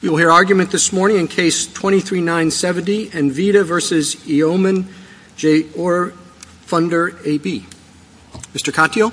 You will hear argument this morning in Case 23-970, NVIDIA v. E. Ohman J. or Fonder AB. Mr. Conteo?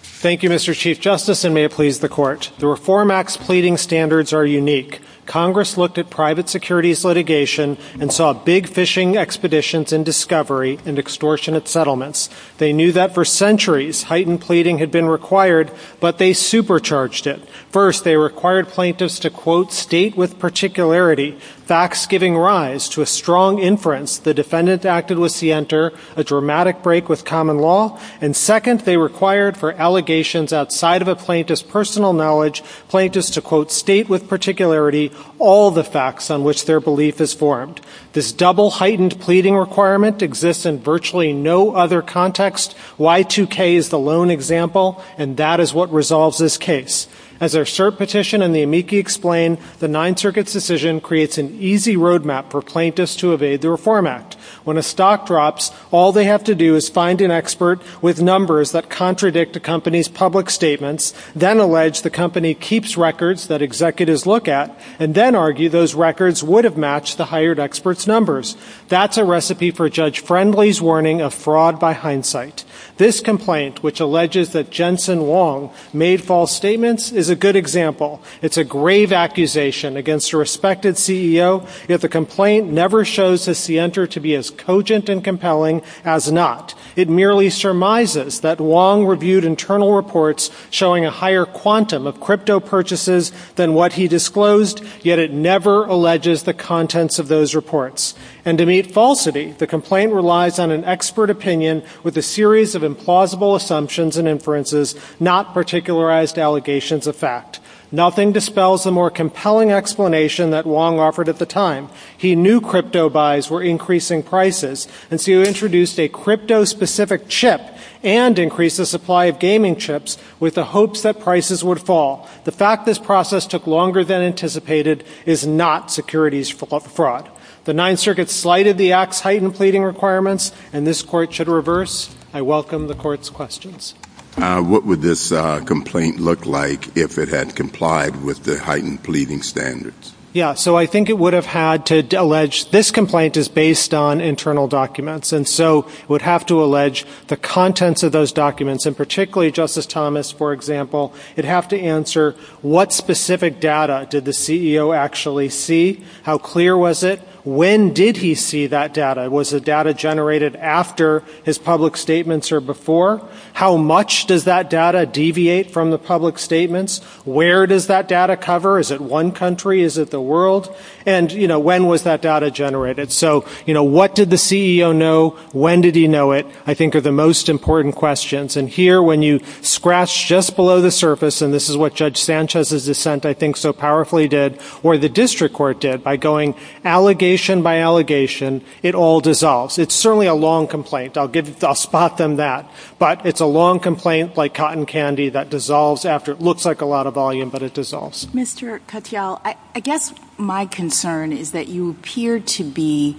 Thank you, Mr. Chief Justice, and may it please the Court. The Reform Act's pleading standards are unique. Congress looked at private securities litigation and saw big fishing expeditions in discovery and extortion of settlements. They knew that for centuries heightened pleading had been required, but they supercharged it. First, they required plaintiffs to, quote, state with particularity facts giving rise to a strong inference the defendant acted with scienter, a dramatic break with common law. And second, they required for allegations outside of a plaintiff's personal knowledge, plaintiffs to, quote, state with particularity all the facts on which their belief is formed. This double heightened pleading requirement exists in virtually no other context. Y2K is the lone example, and that is what resolves this case. As our cert petition and the amici explain, the Ninth Circuit's decision creates an easy road map for plaintiffs to evade the Reform Act. When a stock drops, all they have to do is find an expert with numbers that contradict the company's public statements, then allege the company keeps records that executives look at, and then argue those records would have matched the hired expert's numbers. That's a recipe for Judge Friendly's warning of fraud by hindsight. This complaint, which alleges that Jensen Wong made false statements, is a good example. It's a grave accusation against a respected CEO, yet the complaint never shows the scienter to be as cogent and compelling as not. It merely surmises that Wong reviewed internal reports showing a higher quantum of crypto purchases than what he disclosed, yet it never alleges the contents of those reports. And to meet falsity, the complaint relies on an expert opinion with a series of implausible assumptions and inferences, not particularized allegations of fact. Nothing dispels the more compelling explanation that Wong offered at the time. He knew crypto buys were increasing prices, and so he introduced a crypto-specific chip and increased the supply of gaming chips with the hopes that prices would fall. The fact this process took longer than anticipated is not securities fraud. The Ninth Circuit slighted the Act's heightened pleading requirements, and this Court should reverse. I welcome the Court's questions. What would this complaint look like if it had complied with the heightened pleading standards? Yeah, so I think it would have had to allege this complaint is based on internal documents, and so it would have to allege the contents of those documents, and particularly Justice Thomas, for example. It would have to answer what specific data did the CEO actually see? How clear was it? When did he see that data? Was the data generated after his public statements or before? How much does that data deviate from the public statements? Where does that data cover? Is it one country? Is it the world? And, you know, when was that data generated? So, you know, what did the CEO know? When did he know it? I think are the most important questions. And here, when you scratch just below the surface, and this is what Judge Sanchez's dissent, I think, so powerfully did, or the district court did, by going allegation by allegation, it all dissolves. It's certainly a long complaint. I'll spot them that. But it's a long complaint like cotton candy that dissolves after it looks like a lot of volume, but it dissolves. Mr. Katyal, I guess my concern is that you appear to be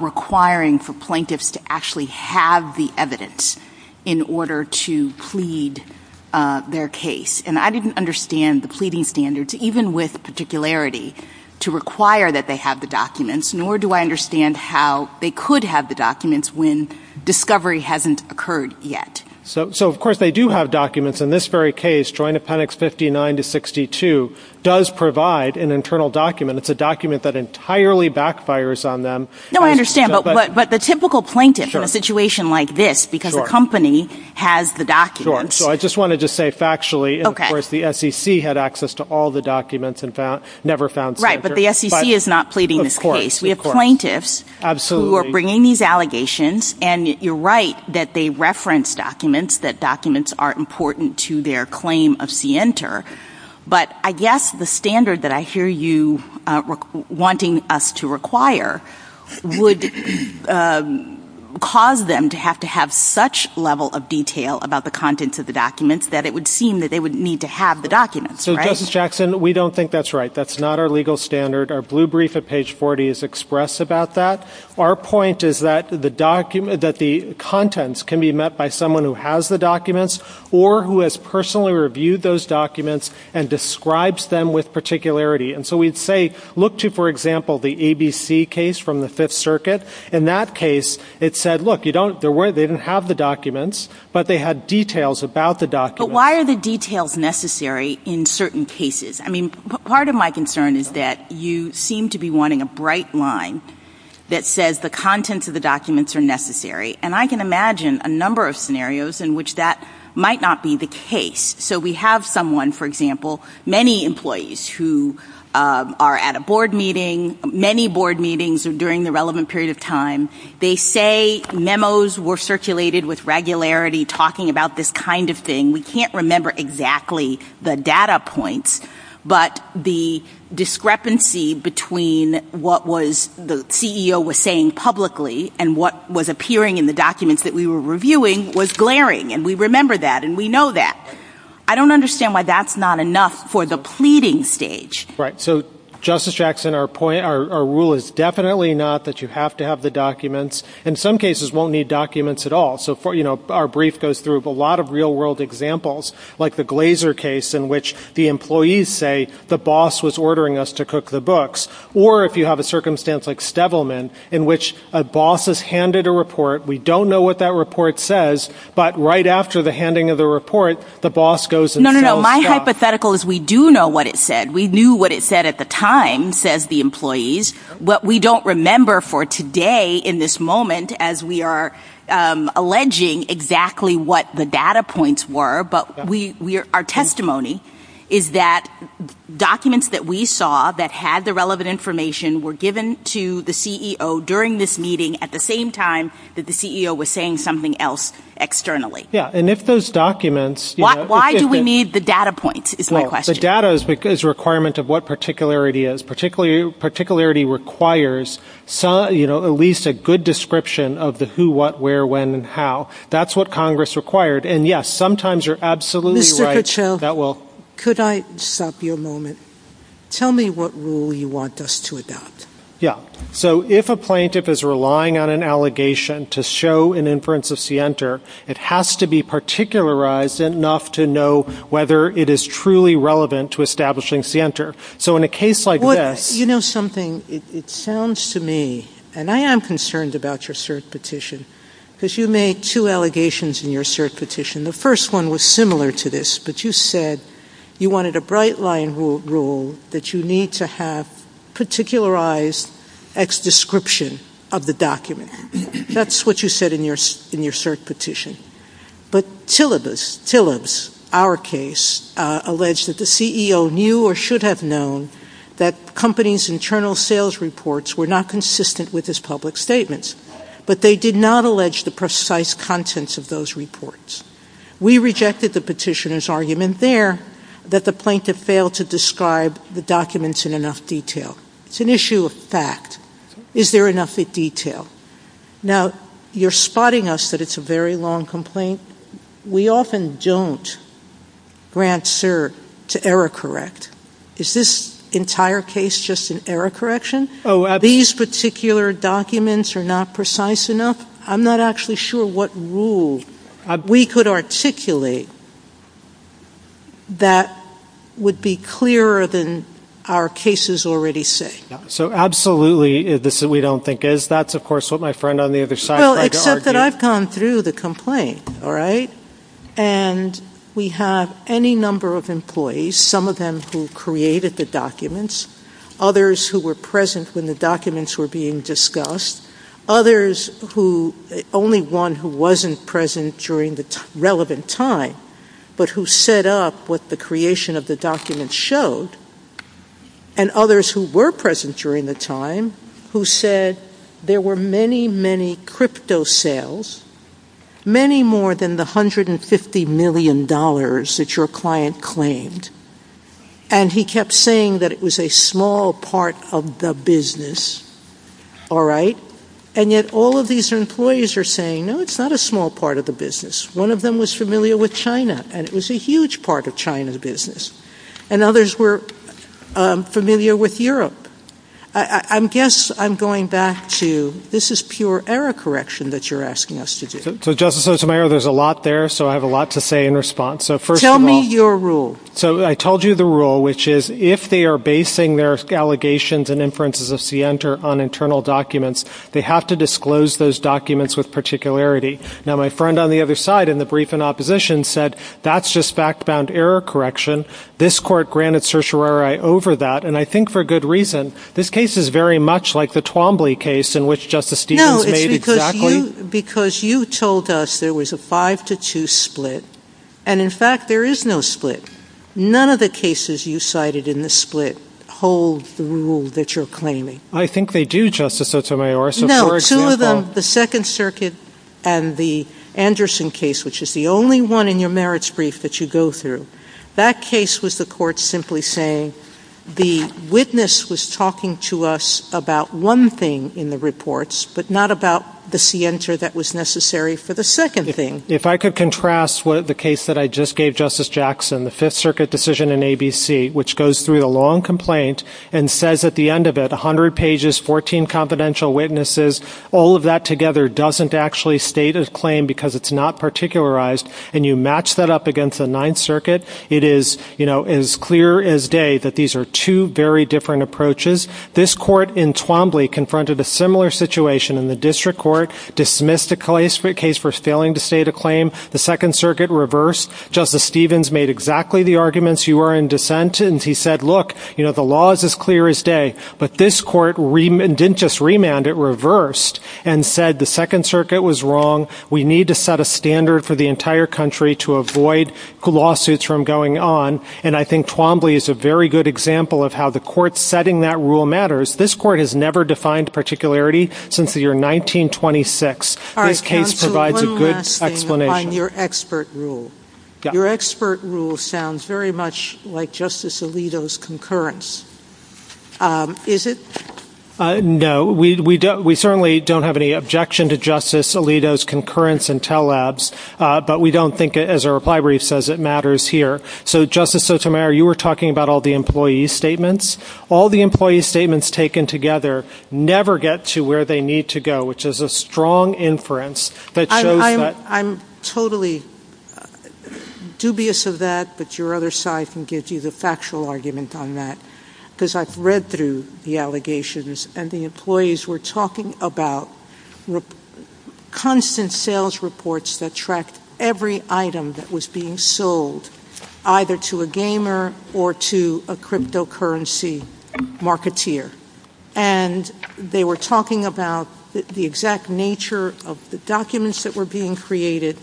requiring for plaintiffs to actually have the evidence in order to plead their case. And I didn't understand the pleading standards, even with particularity, to require that they have the documents, nor do I understand how they could have the documents when discovery hasn't occurred yet. So, of course, they do have documents in this very case. Joint Appendix 59 to 62 does provide an internal document. It's a document that entirely backfires on them. No, I understand, but the typical plaintiff in a situation like this, because the company has the documents. Sure. So I just wanted to say factually, of course, the SEC had access to all the documents and never found... Right, but the SEC is not pleading this case. Of course. We have plaintiffs who are bringing these allegations, and you're right that they reference documents, that documents are important to their claim of scienter. But I guess the standard that I hear you wanting us to require would cause them to have to have such level of detail about the contents of the documents that it would seem that they would need to have the documents, right? So, Justice Jackson, we don't think that's right. That's not our legal standard. Our blue brief at page 40 is expressed about that. Our point is that the contents can be met by someone who has the documents or who has personally reviewed those documents and describes them with particularity. And so we'd say look to, for example, the ABC case from the Fifth Circuit. In that case, it said, look, they didn't have the documents, but they had details about the documents. But why are the details necessary in certain cases? I mean, part of my concern is that you seem to be wanting a bright line that says the contents of the documents are necessary. And I can imagine a number of scenarios in which that might not be the case. So we have someone, for example, many employees who are at a board meeting, many board meetings during the relevant period of time. They say memos were circulated with regularity talking about this kind of thing. We can't remember exactly the data points, but the discrepancy between what the CEO was saying publicly and what was appearing in the documents that we were reviewing was glaring. And we remember that and we know that. I don't understand why that's not enough for the pleading stage. Right. So, Justice Jackson, our rule is definitely not that you have to have the documents. And some cases won't need documents at all. So, you know, our brief goes through a lot of real-world examples, like the Glazer case in which the employees say the boss was ordering us to cook the books. Or if you have a circumstance like Stevelman in which a boss is handed a report. We don't know what that report says, but right after the handing of the report, the boss goes and tells the boss. No, no, no. My hypothetical is we do know what it said. We knew what it said at the time, says the employees. What we don't remember for today in this moment, as we are alleging exactly what the data points were, but our testimony is that documents that we saw that had the relevant information were given to the CEO during this meeting at the same time that the CEO was saying something else externally. Yeah. And if those documents- Why do we need the data points is my question. The data is a requirement of what particularity is. And particularity requires, you know, at least a good description of the who, what, where, when, and how. That's what Congress required. And, yes, sometimes you're absolutely right. Mr. Fitzgerald, could I stop you a moment? Tell me what rule you want us to adopt. Yeah. So if a plaintiff is relying on an allegation to show an inference of scienter, it has to be particularized enough to know whether it is truly relevant to establishing scienter. So in a case like that- You know something? It sounds to me, and I am concerned about your cert petition, because you make two allegations in your cert petition. The first one was similar to this, but you said you wanted a bright line rule that you need to have particularized ex-description of the document. That's what you said in your cert petition. But Tillis, our case, alleged that the CEO knew or should have known that the company's internal sales reports were not consistent with his public statements. But they did not allege the precise contents of those reports. We rejected the petitioner's argument there that the plaintiff failed to describe the documents in enough detail. It's an issue of fact. Is there enough detail? Now, you're spotting us that it's a very long complaint. We often don't grant cert to error correct. Is this entire case just an error correction? Are these particular documents not precise enough? I'm not actually sure what rule we could articulate that would be clearer than our cases already say. So absolutely, this is what we don't think is. That's, of course, what my friend on the other side tried to argue. Well, except that I've gone through the complaint, all right? And we have any number of employees, some of them who created the documents, others who were present when the documents were being discussed, others who, only one who wasn't present during the relevant time, but who set up what the creation of the documents showed, and others who were present during the time who said there were many, many crypto sales, many more than the $150 million that your client claimed, and he kept saying that it was a small part of the business, all right? And yet all of these employees are saying, no, it's not a small part of the business. One of them was familiar with China, and it was a huge part of China's business. And others were familiar with Europe. I guess I'm going back to this is pure error correction that you're asking us to do. So, Justice Osamayor, there's a lot there, so I have a lot to say in response. Tell me your rule. So I told you the rule, which is if they are basing their allegations and inferences of scienter on internal documents, they have to disclose those documents with particularity. Now, my friend on the other side in the brief in opposition said that's just fact-bound error correction. This court granted certiorari over that, and I think for good reason. This case is very much like the Twombly case in which Justice Stevens made exactly— No, it's because you told us there was a five-to-two split, and in fact there is no split. None of the cases you cited in the split hold the rule that you're claiming. I think they do, Justice Osamayor. No, two of them, the Second Circuit and the Anderson case, which is the only one in your merits brief that you go through, that case was the court simply saying the witness was talking to us about one thing in the reports but not about the scienter that was necessary for the second thing. If I could contrast the case that I just gave Justice Jackson, the Fifth Circuit decision in ABC, which goes through the long complaint and says at the end of it, 100 pages, 14 confidential witnesses, all of that together doesn't actually state a claim because it's not particularized, and you match that up against the Ninth Circuit, it is as clear as day that these are two very different approaches. This court in Twombly confronted a similar situation in the District Court, dismissed the case for failing to state a claim, the Second Circuit reversed. Justice Stevens made exactly the arguments. You were in dissent, and he said, look, the law is as clear as day, but this court didn't just remand, it reversed and said the Second Circuit was wrong. We need to set a standard for the entire country to avoid lawsuits from going on, and I think Twombly is a very good example of how the court setting that rule matters. This court has never defined particularity since the year 1926. All right, counsel, one last thing on your expert rule. Your expert rule sounds very much like Justice Alito's concurrence. Is it? No, we certainly don't have any objection to Justice Alito's concurrence in Tell Labs, but we don't think, as our reply brief says, it matters here. So, Justice Sotomayor, you were talking about all the employee statements. All the employee statements taken together never get to where they need to go, which is a strong inference that shows that— I'm totally dubious of that, but your other side can give you the factual argument on that, because I've read through the allegations, and the employees were talking about constant sales reports that tracked every item that was being sold, either to a gamer or to a cryptocurrency marketeer. And they were talking about the exact nature of the documents that were being created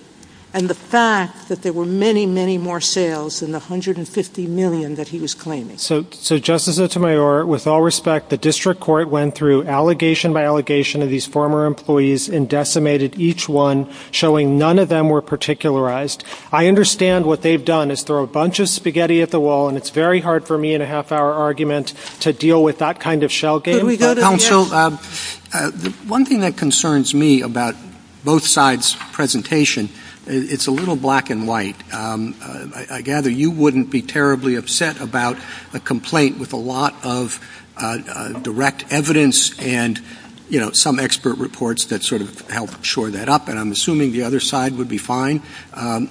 and the fact that there were many, many more sales than the 150 million that he was claiming. So, Justice Sotomayor, with all respect, the district court went through allegation by allegation of these former employees and decimated each one, showing none of them were particularized. I understand what they've done is throw a bunch of spaghetti at the wall, and it's very hard for me in a half-hour argument to deal with that kind of shell game. One thing that concerns me about both sides' presentation, it's a little black and white. I gather you wouldn't be terribly upset about a complaint with a lot of direct evidence and some expert reports that sort of help shore that up, and I'm assuming the other side would be fine if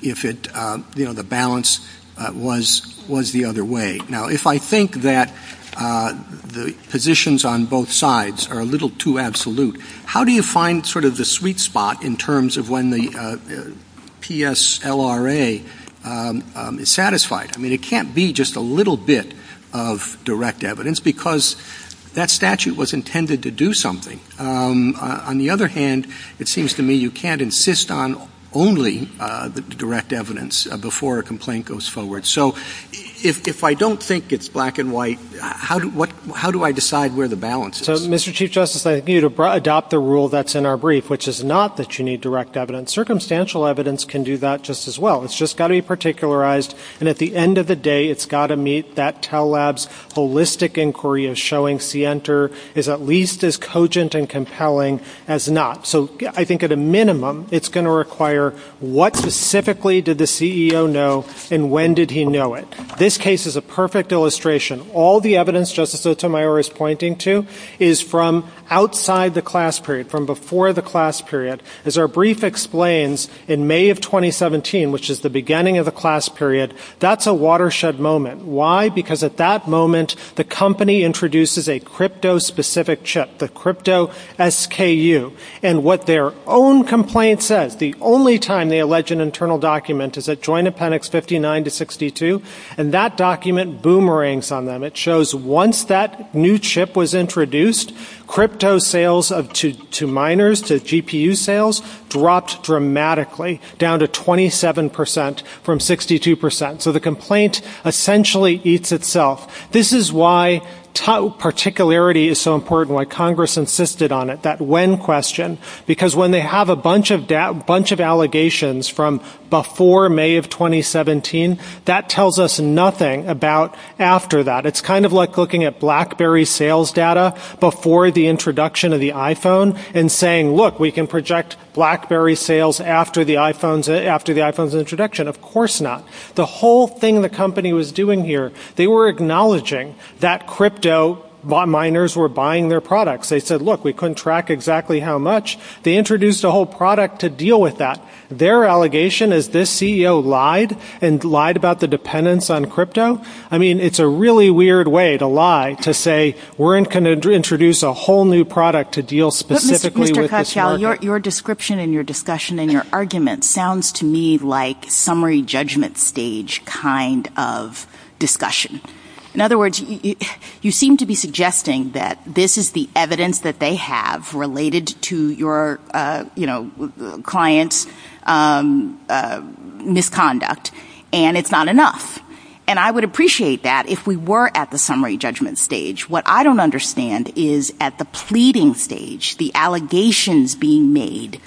the balance was the other way. Now, if I think that the positions on both sides are a little too absolute, how do you find sort of the sweet spot in terms of when the PSLRA is satisfied? I mean, it can't be just a little bit of direct evidence because that statute was intended to do something. On the other hand, it seems to me you can't insist on only the direct evidence before a complaint goes forward. So if I don't think it's black and white, how do I decide where the balance is? So, Mr. Chief Justice, I think you need to adopt the rule that's in our brief, which is not that you need direct evidence. Circumstantial evidence can do that just as well. It's just got to be particularized, and at the end of the day, it's got to meet that TELLAB's holistic inquiry in showing SIENTR is at least as cogent and compelling as not. So I think at a minimum, it's going to require what specifically did the CEO know, and when did he know it? This case is a perfect illustration. All the evidence Justice Sotomayor is pointing to is from outside the class period, from before the class period. As our brief explains, in May of 2017, which is the beginning of the class period, that's a watershed moment. Why? Because at that moment, the company introduces a crypto-specific chip, the crypto-SKU, and what their own complaint says, the only time they allege an internal document is at Joint Appendix 59-62, and that document boomerangs on them. It shows once that new chip was introduced, crypto sales to miners, to GPU sales, dropped dramatically, down to 27% from 62%. So the complaint essentially eats itself. This is why particularity is so important, why Congress insisted on it, that when question, because when they have a bunch of allegations from before May of 2017, that tells us nothing about after that. It's kind of like looking at BlackBerry sales data before the introduction of the iPhone and saying, look, we can project BlackBerry sales after the iPhone's introduction. Of course not. The whole thing the company was doing here, they were acknowledging that crypto miners were buying their products. They said, look, we couldn't track exactly how much. They introduced a whole product to deal with that. Their allegation is this CEO lied and lied about the dependence on crypto. I mean, it's a really weird way to lie, to say we're going to introduce a whole new product to deal specifically with this market. Your description and your discussion and your argument sounds to me like summary judgment stage kind of discussion. In other words, you seem to be suggesting that this is the evidence that they have related to your client's misconduct, and it's not enough. And I would appreciate that if we were at the summary judgment stage. What I don't understand is at the pleading stage, the allegations being made,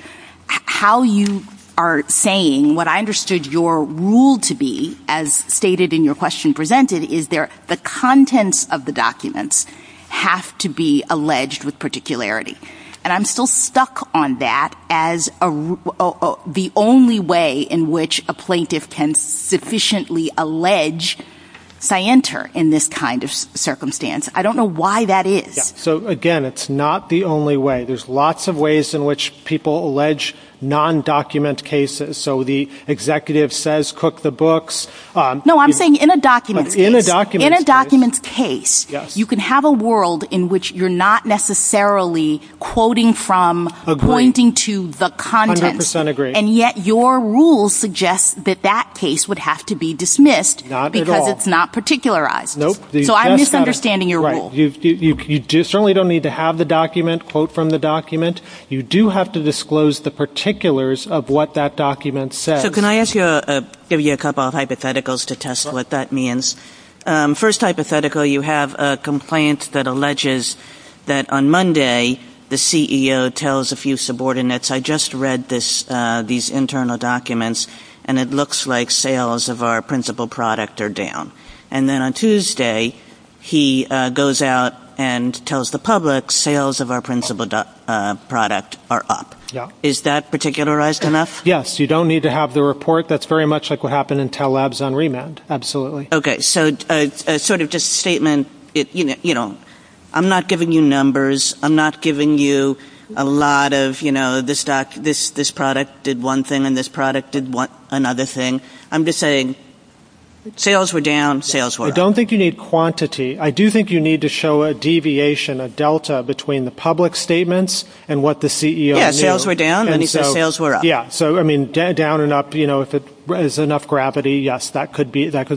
how you are saying what I understood your rule to be, as stated in your question presented, is there the contents of the documents have to be alleged with particularity. And I'm still stuck on that as the only way in which a plaintiff can sufficiently allege. If I enter in this kind of circumstance, I don't know why that is. So, again, it's not the only way. There's lots of ways in which people allege non document cases. So the executive says cook the books. No, I'm saying in a document case, you can have a world in which you're not necessarily quoting from, pointing to the content. And yet your rules suggest that that case would have to be dismissed because it's not particularized. So I'm misunderstanding your rule. You certainly don't need to have the document, quote from the document. You do have to disclose the particulars of what that document says. So can I ask you to give you a couple of hypotheticals to test what that means? First hypothetical, you have a complaint that alleges that on Monday, the CEO tells a few subordinates, I just read this, these internal documents and it looks like sales of our principal product are down. And then on Tuesday, he goes out and tells the public sales of our principal product are up. Is that particularized enough? Yes, you don't need to have the report. That's very much like what happened in TEL Labs on remand, absolutely. Okay, so sort of just a statement, you know, I'm not giving you numbers. I'm not giving you a lot of, you know, this product did one thing and this product did another thing. I'm just saying sales were down, sales were up. I don't think you need quantity. I do think you need to show a deviation, a delta between the public statements and what the CEO knows. Sales were down and he said sales were up. Yeah, so, I mean, down and up, you know, if there's enough gravity, yes, that could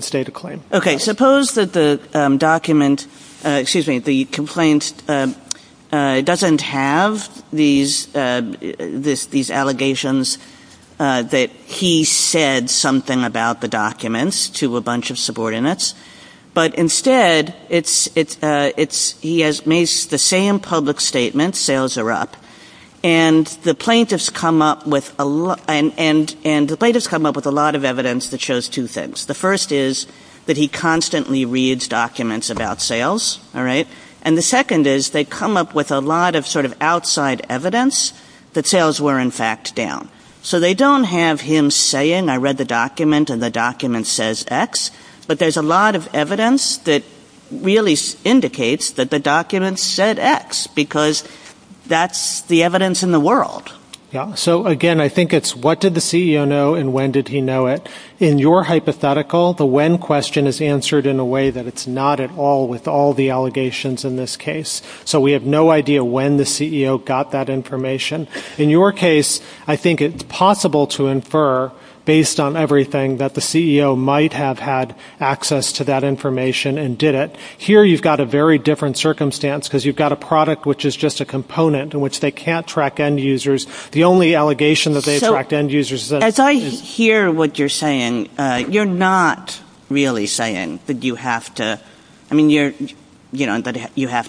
stay the claim. Okay, suppose that the document, excuse me, the complaint doesn't have these allegations that he said something about the documents to a bunch of subordinates, but instead he has made the same public statement, sales are up, and the plaintiffs come up with a lot of evidence that shows two things. The first is that he constantly reads documents about sales, all right, and the second is they come up with a lot of sort of outside evidence that sales were in fact down. So they don't have him saying I read the document and the document says X, but there's a lot of evidence that really indicates that the document said X because that's the evidence in the world. Yeah, so again, I think it's what did the CEO know and when did he know it. In your hypothetical, the when question is answered in a way that it's not at all with all the allegations in this case. So we have no idea when the CEO got that information. In your case, I think it's possible to infer based on everything that the CEO might have had access to that information and did it. Here you've got a very different circumstance because you've got a product which is just a component in which they can't track end users. The only allegation that they track end users is that- As I hear what you're saying, you're not really saying that you have to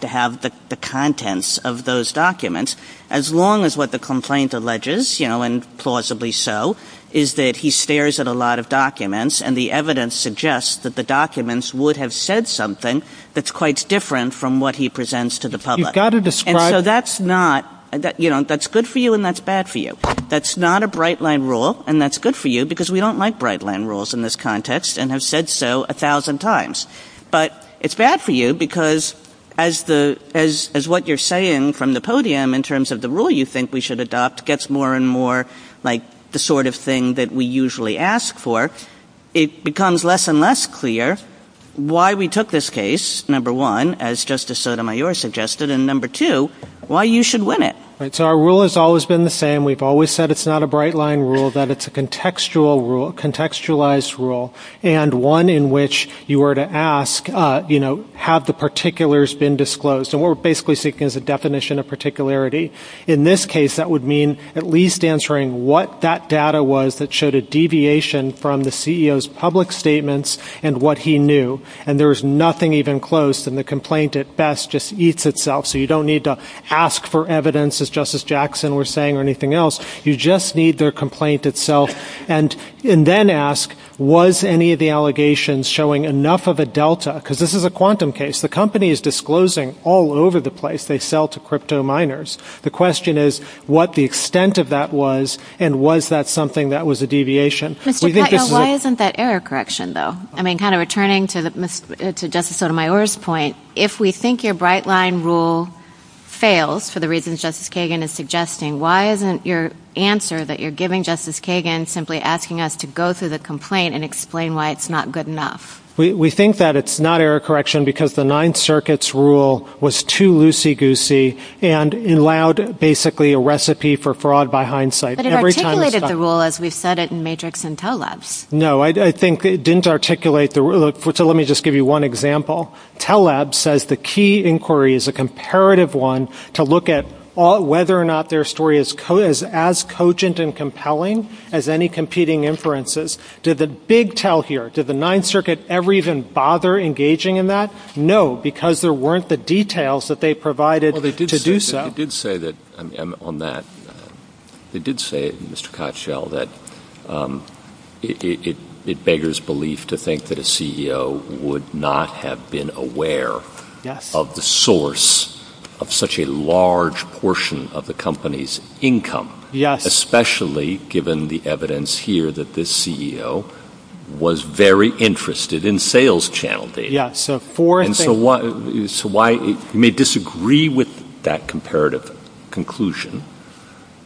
have the contents of those documents as long as what the complaint alleges and plausibly so is that he stares at a lot of documents and the evidence suggests that the documents would have said something that's quite different from what he presents to the public. You've got to describe- That's good for you and that's bad for you. That's not a bright line rule and that's good for you because we don't like bright line rules in this context and have said so a thousand times. But it's bad for you because as what you're saying from the podium in terms of the rule you think we should adopt gets more and more like the sort of thing that we usually ask for, it becomes less and less clear why we took this case, number one, as Justice Sotomayor suggested, and number two, why you should win it. Our rule has always been the same. We've always said it's not a bright line rule, that it's a contextualized rule and one in which you were to ask have the particulars been disclosed. What we're basically seeking is a definition of particularity. In this case that would mean at least answering what that data was that showed a deviation from the CEO's public statements and what he knew and there's nothing even close and the complaint at best just eats itself. So you don't need to ask for evidence as Justice Jackson was saying or anything else. You just need the complaint itself and then ask was any of the allegations showing enough of a delta because this is a quantum case. The company is disclosing all over the place they sell to crypto miners. The question is what the extent of that was and was that something that was a deviation. Why isn't that error correction though? I mean kind of returning to Justice Sotomayor's point, if we think your bright line rule fails for the reasons Justice Kagan is suggesting, why isn't your answer that you're giving Justice Kagan simply asking us to go through the complaint and explain why it's not good enough? We think that it's not error correction because the Ninth Circuit's rule was too loosey-goosey and allowed basically a recipe for fraud by hindsight. But it articulated the rule as we said it in Matrix and Tell Labs. No, I think it didn't articulate the rule. So let me just give you one example. Tell Labs says the key inquiry is a comparative one to look at whether or not their story is as cogent and compelling as any competing inferences. Did the big tell here, did the Ninth Circuit ever even bother engaging in that? No, because there weren't the details that they provided to do so. They did say on that, they did say, Mr. Kotchell, that it beggars belief to think that a CEO would not have been aware of the source of such a large portion of the company's income, especially given the evidence here that this CEO was very interested in sales challenges. So you may disagree with that comparative conclusion,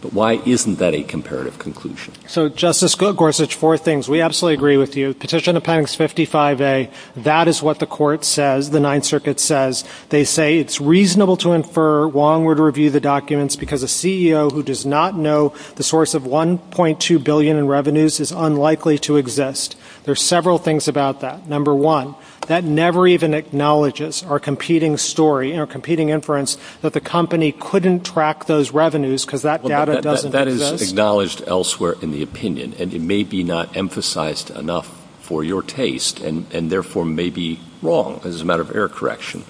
but why isn't that a comparative conclusion? So Justice Gorsuch, four things. We absolutely agree with you. Petition Appendix 55A, that is what the court says, the Ninth Circuit says. They say it's reasonable to infer Wong would review the documents because a CEO who does not know the source of 1.2 billion in revenues is unlikely to exist. There are several things about that. Number one, that never even acknowledges our competing story and our competing inference that the company couldn't track those revenues because that data doesn't exist. That is acknowledged elsewhere in the opinion, and it may be not emphasized enough for your taste and therefore may be wrong as a matter of error correction.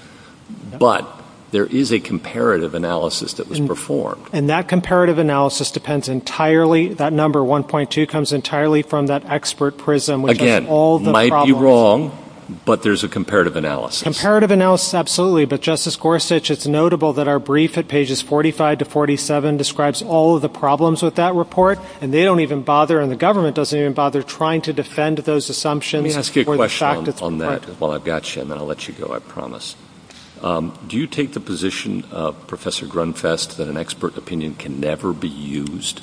But there is a comparative analysis that was performed. And that comparative analysis depends entirely, that number 1.2 comes entirely from that expert prism. Again, it might be wrong, but there's a comparative analysis. Comparative analysis, absolutely. But Justice Gorsuch, it's notable that our brief at pages 45 to 47 describes all of the problems with that report, and they don't even bother, and the government doesn't even bother trying to defend those assumptions. Let me ask you a question on that. Well, I've got you, and I'll let you go. I promise. Do you take the position, Professor Grunfest, that an expert opinion can never be used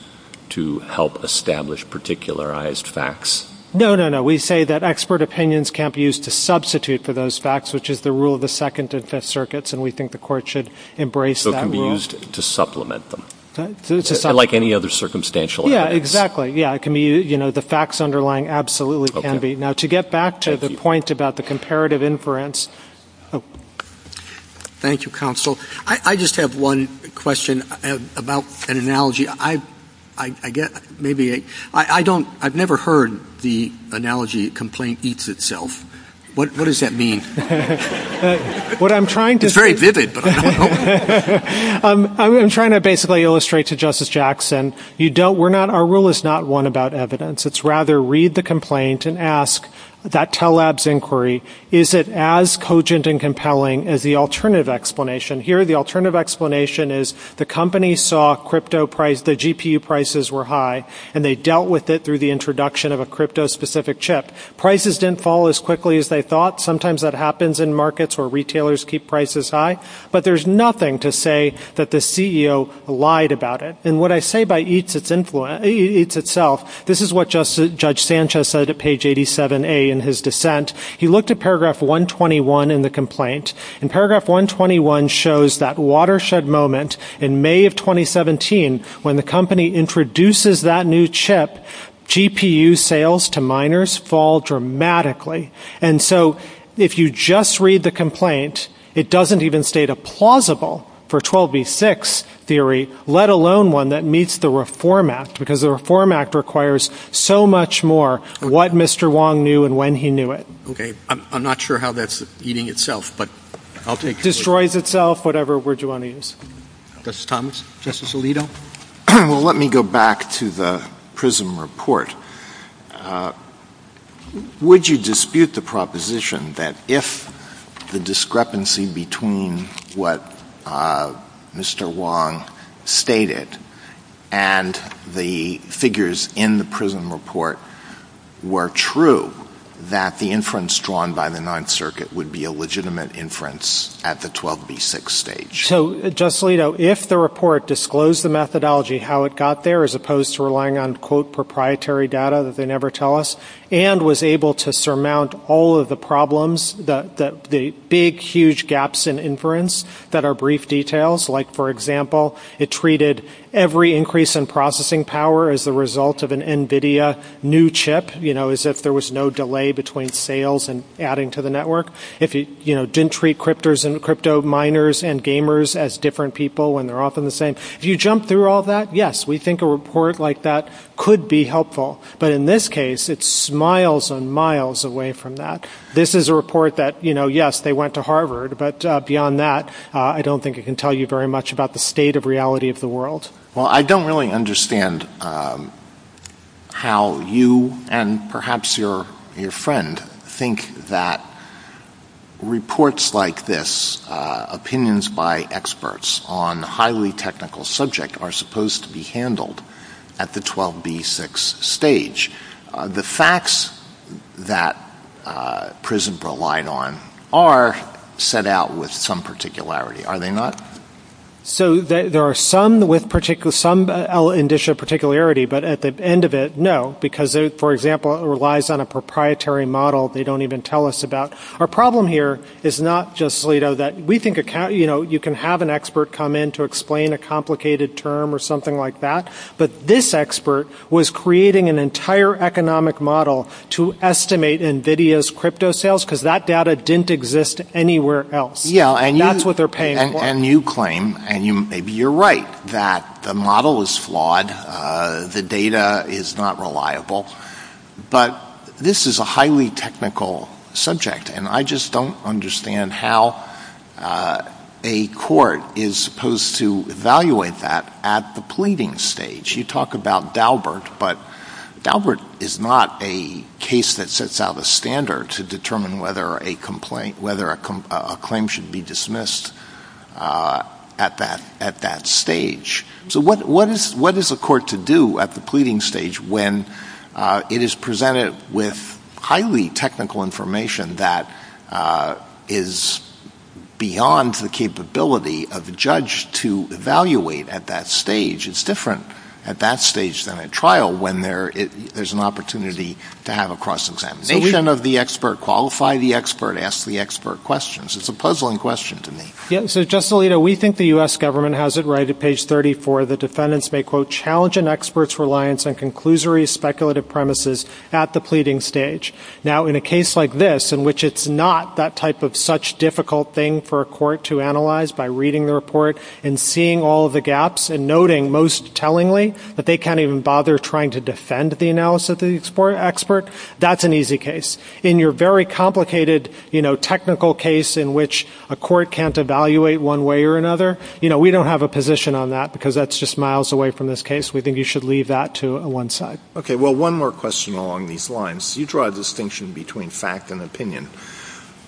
to help establish particularized facts? No, no, no. We say that expert opinions can't be used to substitute for those facts, which is the rule of the Second and Fifth Circuits, and we think the Court should embrace that rule. So it can be used to supplement them. To supplement. Like any other circumstantial evidence. Yeah, exactly. Yeah, it can be, you know, the facts underlying absolutely can be. Now, to get back to the point about the comparative inference. Thank you, Counsel. I just have one question about an analogy. I've never heard the analogy complaint eats itself. What does that mean? It's very vivid, but I don't know. I'm trying to basically illustrate to Justice Jackson, our rule is not one about evidence. It's rather read the complaint and ask, that telebs inquiry, is it as cogent and compelling as the alternative explanation? Here, the alternative explanation is the company saw the GPU prices were high, and they dealt with it through the introduction of a crypto-specific chip. Prices didn't fall as quickly as they thought. Sometimes that happens in markets where retailers keep prices high. But there's nothing to say that the CEO lied about it. And what I say by eats itself, this is what Judge Sanchez said at page 87A in his dissent. He looked at paragraph 121 in the complaint. And paragraph 121 shows that watershed moment in May of 2017, when the company introduces that new chip, GPU sales to miners fall dramatically. And so if you just read the complaint, it doesn't even state a plausible for 12v6 theory, let alone one that meets the Reform Act, because the Reform Act requires so much more of what Mr. Wong knew and when he knew it. Okay. I'm not sure how that's eating itself, but I'll take it. It destroys itself, whatever word you want to use. Justice Thomas? Justice Alito? Well, let me go back to the PRISM report. Would you dispute the proposition that if the discrepancy between what Mr. Wong stated and the figures in the PRISM report were true, that the inference drawn by the Ninth Circuit would be a legitimate inference at the 12v6 stage? So, Justice Alito, if the report disclosed the methodology, how it got there, as opposed to relying on, quote, proprietary data that they never tell us, and was able to surmount all of the problems, the big, huge gaps in inference that are brief details, like, for example, it treated every increase in processing power as the result of an NVIDIA new chip, as if there was no delay between sales and adding to the network. It didn't treat crypto miners and gamers as different people, and they're often the same. If you jump through all that, yes, we think a report like that could be helpful. But in this case, it's miles and miles away from that. This is a report that, yes, they went to Harvard, but beyond that, I don't think it can tell you very much about the state of reality of the world. Well, I don't really understand how you and perhaps your friend think that reports like this, opinions by experts on a highly technical subject, are supposed to be handled at the 12v6 stage. The facts that Prism relied on are set out with some particularity, are they not? So there are some with some indicia of particularity, but at the end of it, no, because, for example, it relies on a proprietary model they don't even tell us about. Our problem here is not just that we think you can have an expert come in to explain a complicated term or something like that, but this expert was creating an entire economic model to estimate NVIDIA's crypto sales, because that data didn't exist anywhere else. That's what they're paying for. And you claim, and maybe you're right, that the model is flawed, the data is not reliable, but this is a highly technical subject, and I just don't understand how a court is supposed to evaluate that at the pleading stage. You talk about Daubert, but Daubert is not a case that sets out a standard to determine whether a complaint, whether a claim should be dismissed at that stage. So what is the court to do at the pleading stage when it is presented with highly technical information that is beyond the capability of the judge to evaluate at that stage? It's different at that stage than at trial when there's an opportunity to have a cross-examination of the expert, qualify the expert, ask the expert questions. It's a puzzling question to me. So just a little, we think the U.S. government has it right at page 34. The defendants may, quote, challenge an expert's reliance on conclusory speculative premises at the pleading stage. Now, in a case like this, in which it's not that type of such difficult thing for a court to analyze by reading the report and seeing all of the gaps and noting, most tellingly, that they can't even bother trying to defend the analysis of the expert, that's an easy case. In your very complicated technical case in which a court can't evaluate one way or another, we don't have a position on that because that's just miles away from this case. We think you should leave that to one side. Okay. Well, one more question along these lines. You draw a distinction between fact and opinion.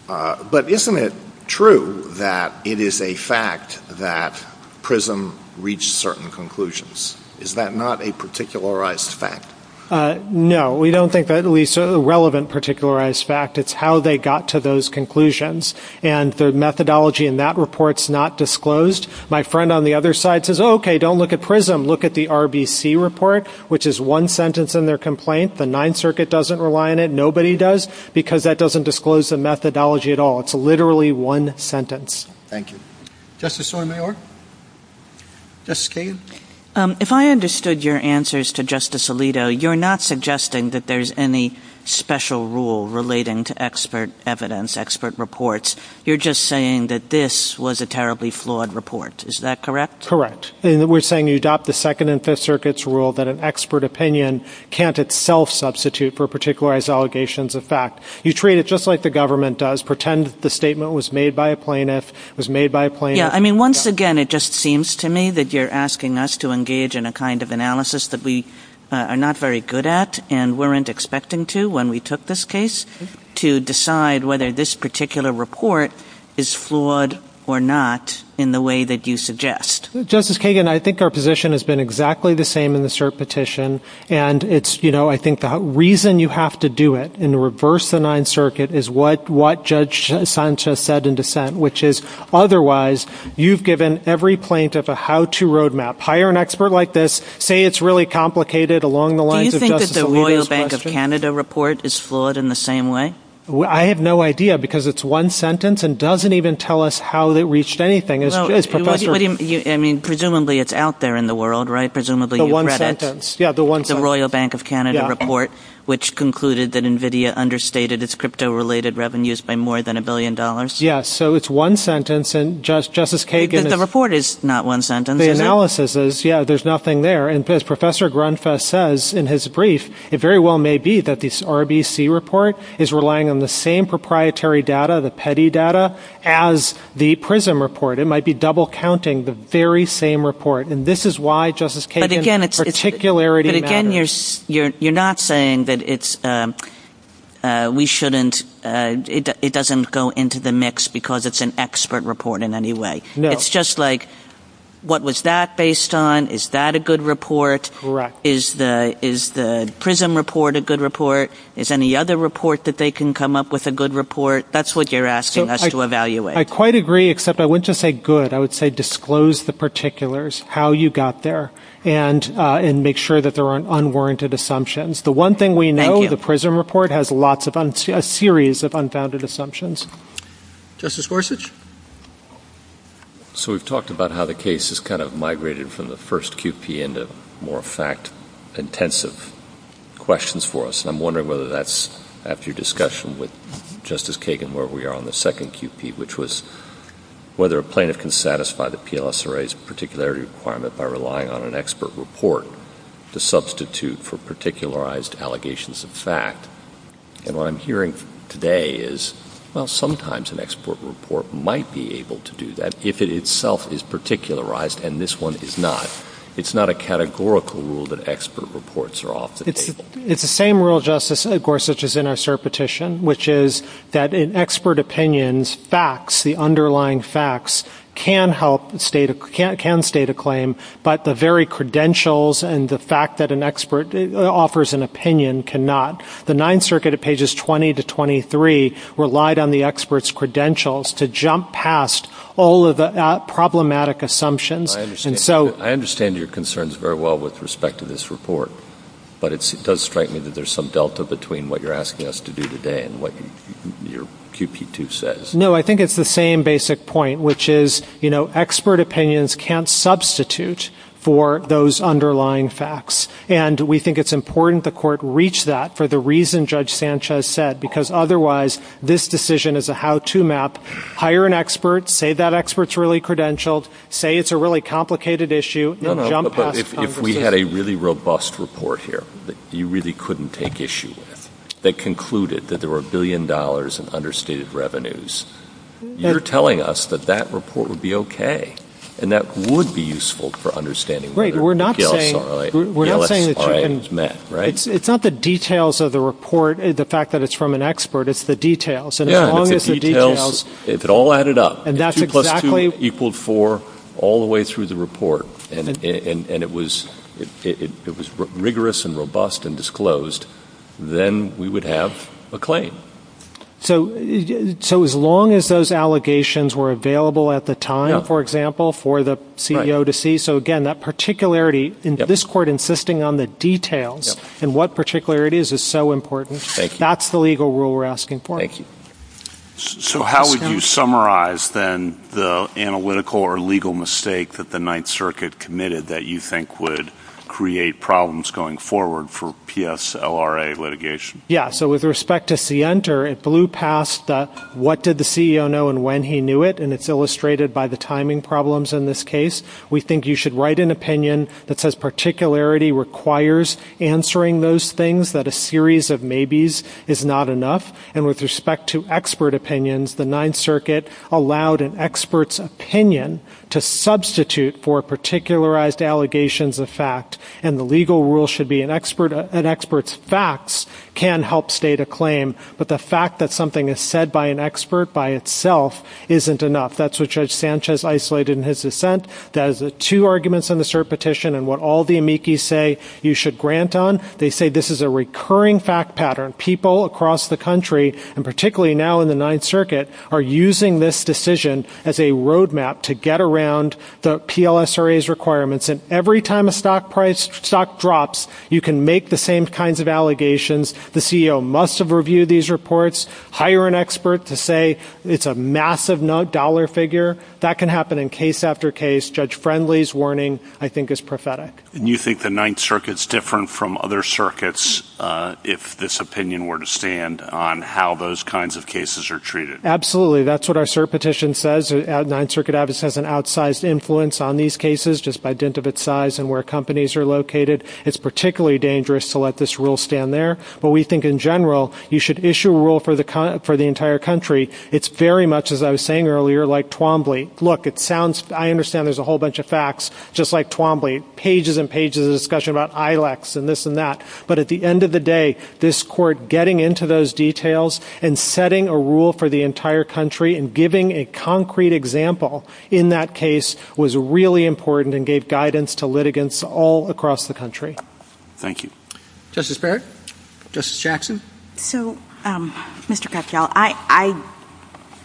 But isn't it true that it is a fact that PRISM reached certain conclusions? Is that not a particularized fact? No. We don't think that at least a relevant particularized fact. It's how they got to those conclusions. And the methodology in that report is not disclosed. My friend on the other side says, okay, don't look at PRISM. Look at the RBC report, which is one sentence in their complaint. The Ninth Circuit doesn't rely on it. Nobody does because that doesn't disclose the methodology at all. It's literally one sentence. Thank you. Justice Sotomayor? Justice Kagan? If I understood your answers to Justice Alito, you're not suggesting that there's any special rule relating to expert evidence, expert reports. You're just saying that this was a terribly flawed report. Is that correct? We're saying you adopt the Second and Fifth Circuit's rule that an expert opinion can't itself substitute for a particularized allegations of fact. You treat it just like the government does, pretend the statement was made by a plaintiff, was made by a plaintiff. I mean, once again, it just seems to me that you're asking us to engage in a kind of analysis that we are not very good at and weren't expecting to when we took this case to decide whether this particular report is flawed or not in the way that you suggest. Justice Kagan, I think our position has been exactly the same in the cert petition, and I think the reason you have to do it in the reverse of the Ninth Circuit is what Judge Sanchez said in dissent, which is, otherwise you've given every plaintiff a how-to roadmap. Hire an expert like this, say it's really complicated along the lines of Justice Alito's question. Do you think that the Royal Bank of Canada report is flawed in the same way? I have no idea, because it's one sentence and doesn't even tell us how it reached anything. I mean, presumably it's out there in the world, right? Presumably you credit the Royal Bank of Canada report, which concluded that NVIDIA understated its crypto-related revenues by more than $1 billion. Yes, so it's one sentence. The report is not one sentence. The analysis is, yeah, there's nothing there. And as Professor Grunfuss says in his brief, it very well may be that this RBC report is relying on the same proprietary data, the petty data, as the PRISM report. It might be double-counting the very same report. And this is why, Justice Kagan, particularity matters. But again, you're not saying that it doesn't go into the mix because it's an expert report in any way. No. It's just like, what was that based on? Is that a good report? Correct. Is the PRISM report a good report? Is any other report that they can come up with a good report? That's what you're asking us to evaluate. I quite agree, except I wouldn't just say good. I would say disclose the particulars, how you got there, and make sure that there aren't unwarranted assumptions. The one thing we know, the PRISM report has a series of unfounded assumptions. Justice Gorsuch? So we've talked about how the case has kind of migrated from the first QP into more fact-intensive questions for us. I'm wondering whether that's after your discussion with Justice Kagan where we are on the second QP, which was whether a plaintiff can satisfy the PLSRA's particularity requirement by relying on an expert report to substitute for particularized allegations of fact. And what I'm hearing today is, well, sometimes an expert report might be able to do that, if it itself is particularized, and this one is not. It's not a categorical rule that expert reports are off the table. It's the same rule, Justice Gorsuch, as in our cert petition, which is that in expert opinions, facts, the underlying facts, can help state a claim, but the very credentials and the fact that an expert offers an opinion cannot. The Ninth Circuit at pages 20 to 23 relied on the expert's credentials to jump past all of the problematic assumptions. I understand your concerns very well with respect to this report, but it does strike me that there's some delta between what you're asking us to do today and what your QP2 says. No, I think it's the same basic point, which is, you know, expert opinions can't substitute for those underlying facts. And we think it's important the Court reach that for the reason Judge Sanchez said, because otherwise this decision is a how-to map. Hire an expert, say that expert's really credentialed, say it's a really complicated issue. No, but if we had a really robust report here that you really couldn't take issue with, that concluded that there were a billion dollars in understated revenues, you're telling us that that report would be okay, and that would be useful for understanding whether Gale's argument is met, right? It's not the details of the report, the fact that it's from an expert, it's the details. If it all added up, 2 plus 2 equaled 4 all the way through the report, and it was rigorous and robust and disclosed, then we would have a claim. So as long as those allegations were available at the time, for example, for the CEO to see, so again, that particularity in this Court insisting on the details and what particularity is so important, that's the legal rule we're asking for. So how would you summarize, then, the analytical or legal mistake that the Ninth Circuit committed that you think would create problems going forward for PSLRA litigation? Yeah, so with respect to Sienter, it blew past what did the CEO know and when he knew it, and it's illustrated by the timing problems in this case. We think you should write an opinion that says particularity requires answering those things, that a series of maybes is not enough, and with respect to expert opinions, the Ninth Circuit allowed an expert's opinion to substitute for particularized allegations of fact, and the legal rule should be an expert's facts can help state a claim, but the fact that something is said by an expert by itself isn't enough. That's what Judge Sanchez isolated in his dissent. That is the two arguments in the cert petition, and what all the amici say you should grant on, they say this is a recurring fact pattern. People across the country, and particularly now in the Ninth Circuit, are using this decision as a roadmap to get around the PLSRA's requirements, and every time a stock price drops, you can make the same kinds of allegations. The CEO must have reviewed these reports. Hire an expert to say it's a massive dollar figure. That can happen in case after case. Judge Friendly's warning, I think, is prophetic. Do you think the Ninth Circuit's different from other circuits, if this opinion were to stand, on how those kinds of cases are treated? Absolutely. That's what our cert petition says. The Ninth Circuit has an outsized influence on these cases just by dint of its size and where companies are located. It's particularly dangerous to let this rule stand there, but we think in general you should issue a rule for the entire country. It's very much, as I was saying earlier, like Twombly. Look, it sounds, I understand there's a whole bunch of facts, just like Twombly. Pages and pages of discussion about ILACs and this and that. But at the end of the day, this court getting into those details and setting a rule for the entire country and giving a concrete example in that case was really important and gave guidance to litigants all across the country. Thank you. Justice Barrett? Justice Jackson? So, Mr. Kretzschel, I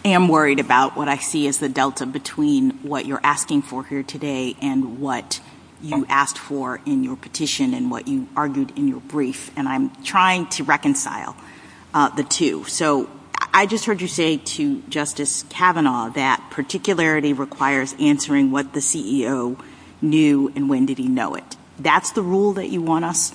am worried about what I see as the delta between what you're asking for here today and what you asked for in your petition and what you argued in your brief, and I'm trying to reconcile the two. So, I just heard you say to Justice Kavanaugh that particularity requires answering what the CEO knew and when did he know it. That's the rule that you want us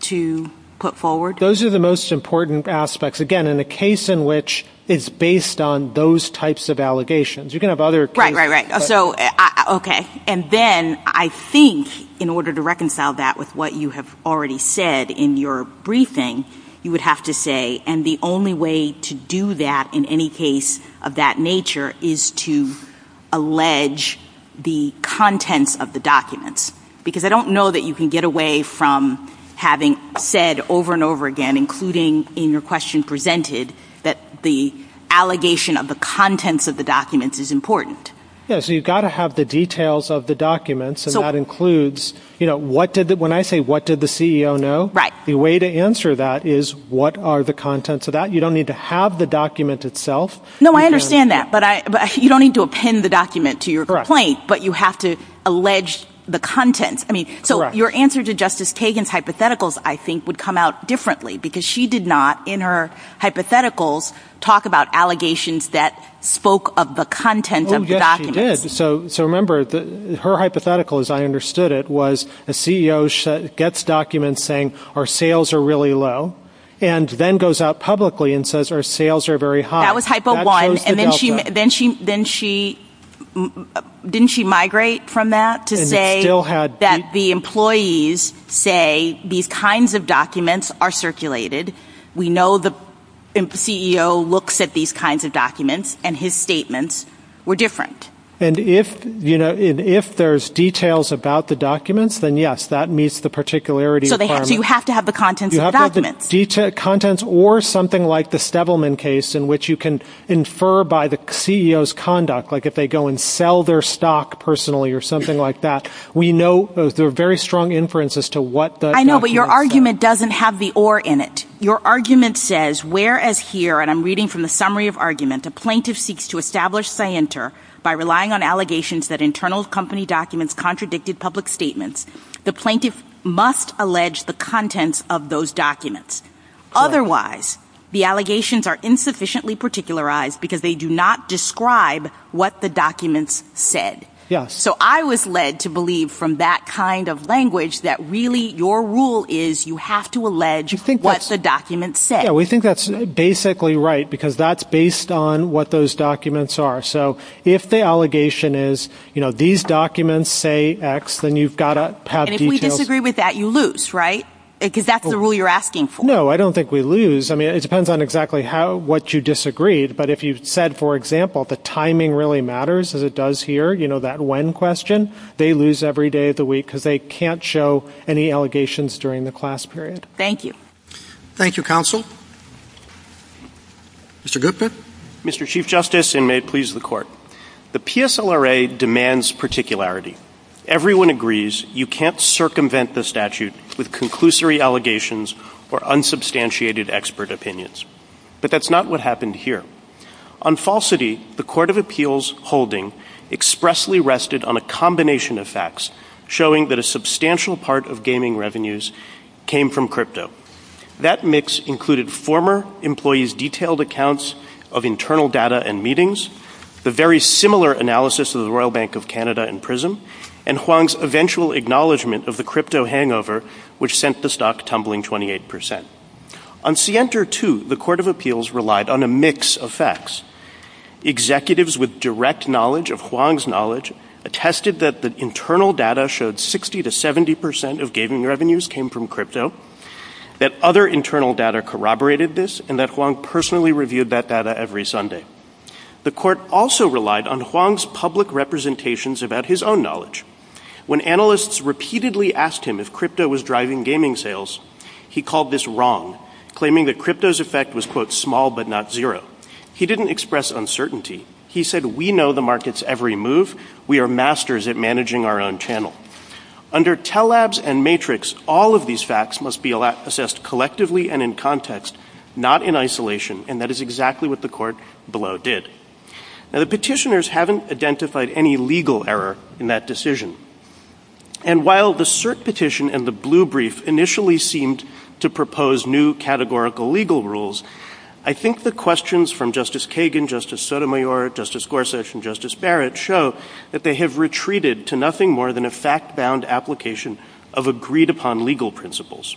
to put forward? Those are the most important aspects, again, in a case in which it's based on those types of allegations. You can have other cases. Right, right, right. Okay. And then I think in order to reconcile that with what you have already said in your briefing, you would have to say, and the only way to do that in any case of that nature is to allege the contents of the documents. Because I don't know that you can get away from having said over and over again, including in your question presented, that the allegation of the contents of the documents is important. Yes, you've got to have the details of the documents, and that includes when I say what did the CEO know, the way to answer that is what are the contents of that. You don't need to have the document itself. No, I understand that, but you don't need to append the document to your complaint, but you have to allege the contents. So, your answer to Justice Kagan's hypotheticals, I think, would come out differently because she did not, in her hypotheticals, talk about allegations that spoke of the contents of the documents. Yes, she did. So, remember, her hypothetical, as I understood it, was the CEO gets documents saying our sales are really low and then goes out publicly and says our sales are very high. That was hypo one. Didn't she migrate from that to say that the employees say these kinds of documents are circulated. We know the CEO looks at these kinds of documents, and his statements were different. And if there's details about the documents, then yes, that meets the particularity requirement. So, you have to have the contents of the documents. Or something like the Stevelman case in which you can infer by the CEO's conduct, like if they go and sell their stock personally or something like that. We know there's a very strong inference as to what the document says. I know, but your argument doesn't have the or in it. Your argument says, whereas here, and I'm reading from the summary of argument, a plaintiff seeks to establish scienter by relying on allegations that internal company documents the plaintiff must allege the contents of those documents. Otherwise, the allegations are insufficiently particularized because they do not describe what the documents said. So, I was led to believe from that kind of language that really your rule is you have to allege what the documents say. We think that's basically right because that's based on what those documents are. So, if the allegation is, you know, these documents say X, then you've got to have details. And if we disagree with that, you lose, right? Because that's the rule you're asking for. No, I don't think we lose. I mean, it depends on exactly what you disagreed. But if you said, for example, the timing really matters as it does here, you know, that when question, they lose every day of the week because they can't show any allegations during the class period. Thank you. Thank you, counsel. Mr. Goodman. Mr. Chief Justice, and may it please the court, the PSLRA demands particularity. Everyone agrees you can't circumvent the statute with conclusory allegations or unsubstantiated expert opinions. But that's not what happened here. On falsity, the Court of Appeals holding expressly rested on a combination of facts showing that a substantial part of gaming revenues came from crypto. That mix included former employees' detailed accounts of internal data and meetings, the very similar analysis of the Royal Bank of Canada and PRISM, and Huang's eventual acknowledgment of the crypto hangover, which sent the stock tumbling 28%. On Sienta 2, the Court of Appeals relied on a mix of facts. Executives with direct knowledge of Huang's knowledge attested that the internal data showed 60 to 70% of gaming revenues came from crypto, that other internal data corroborated this, and that Huang personally reviewed that data every Sunday. The court also relied on Huang's public representations about his own knowledge. When analysts repeatedly asked him if crypto was driving gaming sales, he called this wrong, claiming that crypto's effect was, quote, small but not zero. He didn't express uncertainty. He said, we know the market's every move. We are masters at managing our own channel. Under Telabs and Matrix, all of these facts must be assessed collectively and in context, not in isolation, and that is exactly what the court below did. Now, the petitioners haven't identified any legal error in that decision. And while the cert petition and the blue brief initially seemed to propose new categorical legal rules, I think the questions from Justice Kagan, Justice Sotomayor, Justice Gorsuch, and Justice Barrett show that they have retreated to nothing more than a fact-bound application of agreed-upon legal principles.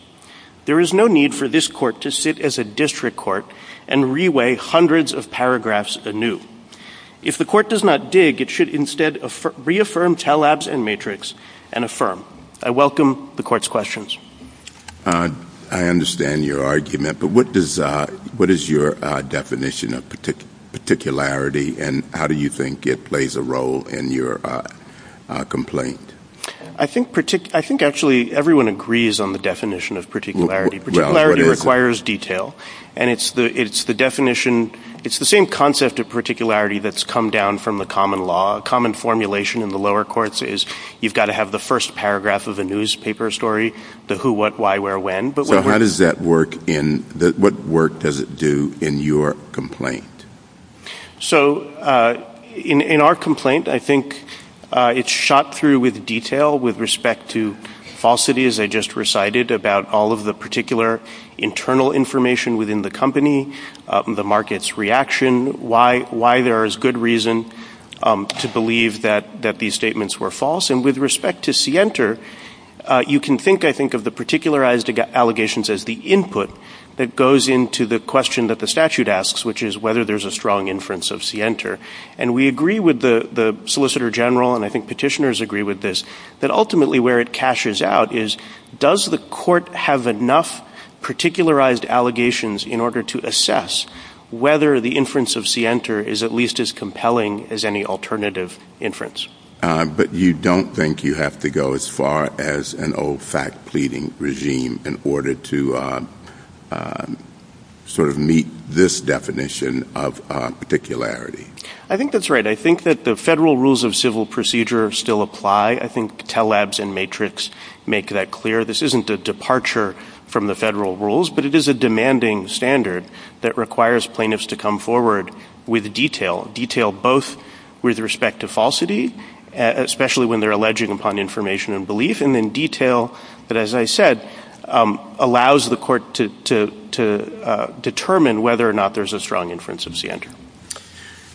There is no need for this court to sit as a district court and reweigh hundreds of paragraphs anew. If the court does not dig, it should instead reaffirm Telabs and Matrix and affirm. I welcome the court's questions. I understand your argument, but what is your definition of particularity, and how do you think it plays a role in your complaint? I think actually everyone agrees on the definition of particularity. Particularity requires detail, and it's the same concept of particularity that's come down from the common law. Common formulation in the lower courts is you've got to have the first paragraph of a newspaper story, the who, what, why, where, when. So what work does it do in your complaint? So in our complaint, I think it's shot through with detail with respect to falsity, as I just recited, about all of the particular internal information within the company, the market's reaction, why there is good reason to believe that these statements were false. And with respect to Sienter, you can think, I think, of the particularized allegations as the input that goes into the question that the statute asks, which is whether there's a strong inference of Sienter. And we agree with the Solicitor General, and I think petitioners agree with this, that ultimately where it cashes out is does the court have enough particularized allegations in order to assess whether the inference of Sienter is at least as compelling as any alternative inference? But you don't think you have to go as far as an old fact pleading regime in order to sort of meet this definition of particularity? I think that's right. I think that the federal rules of civil procedure still apply. I think Telabs and Matrix make that clear. This isn't a departure from the federal rules, but it is a demanding standard that requires plaintiffs to come forward with detail, detail both with respect to falsity, especially when they're alleging upon information and belief, and then detail that, as I said, allows the court to determine whether or not there's a strong inference of Sienter.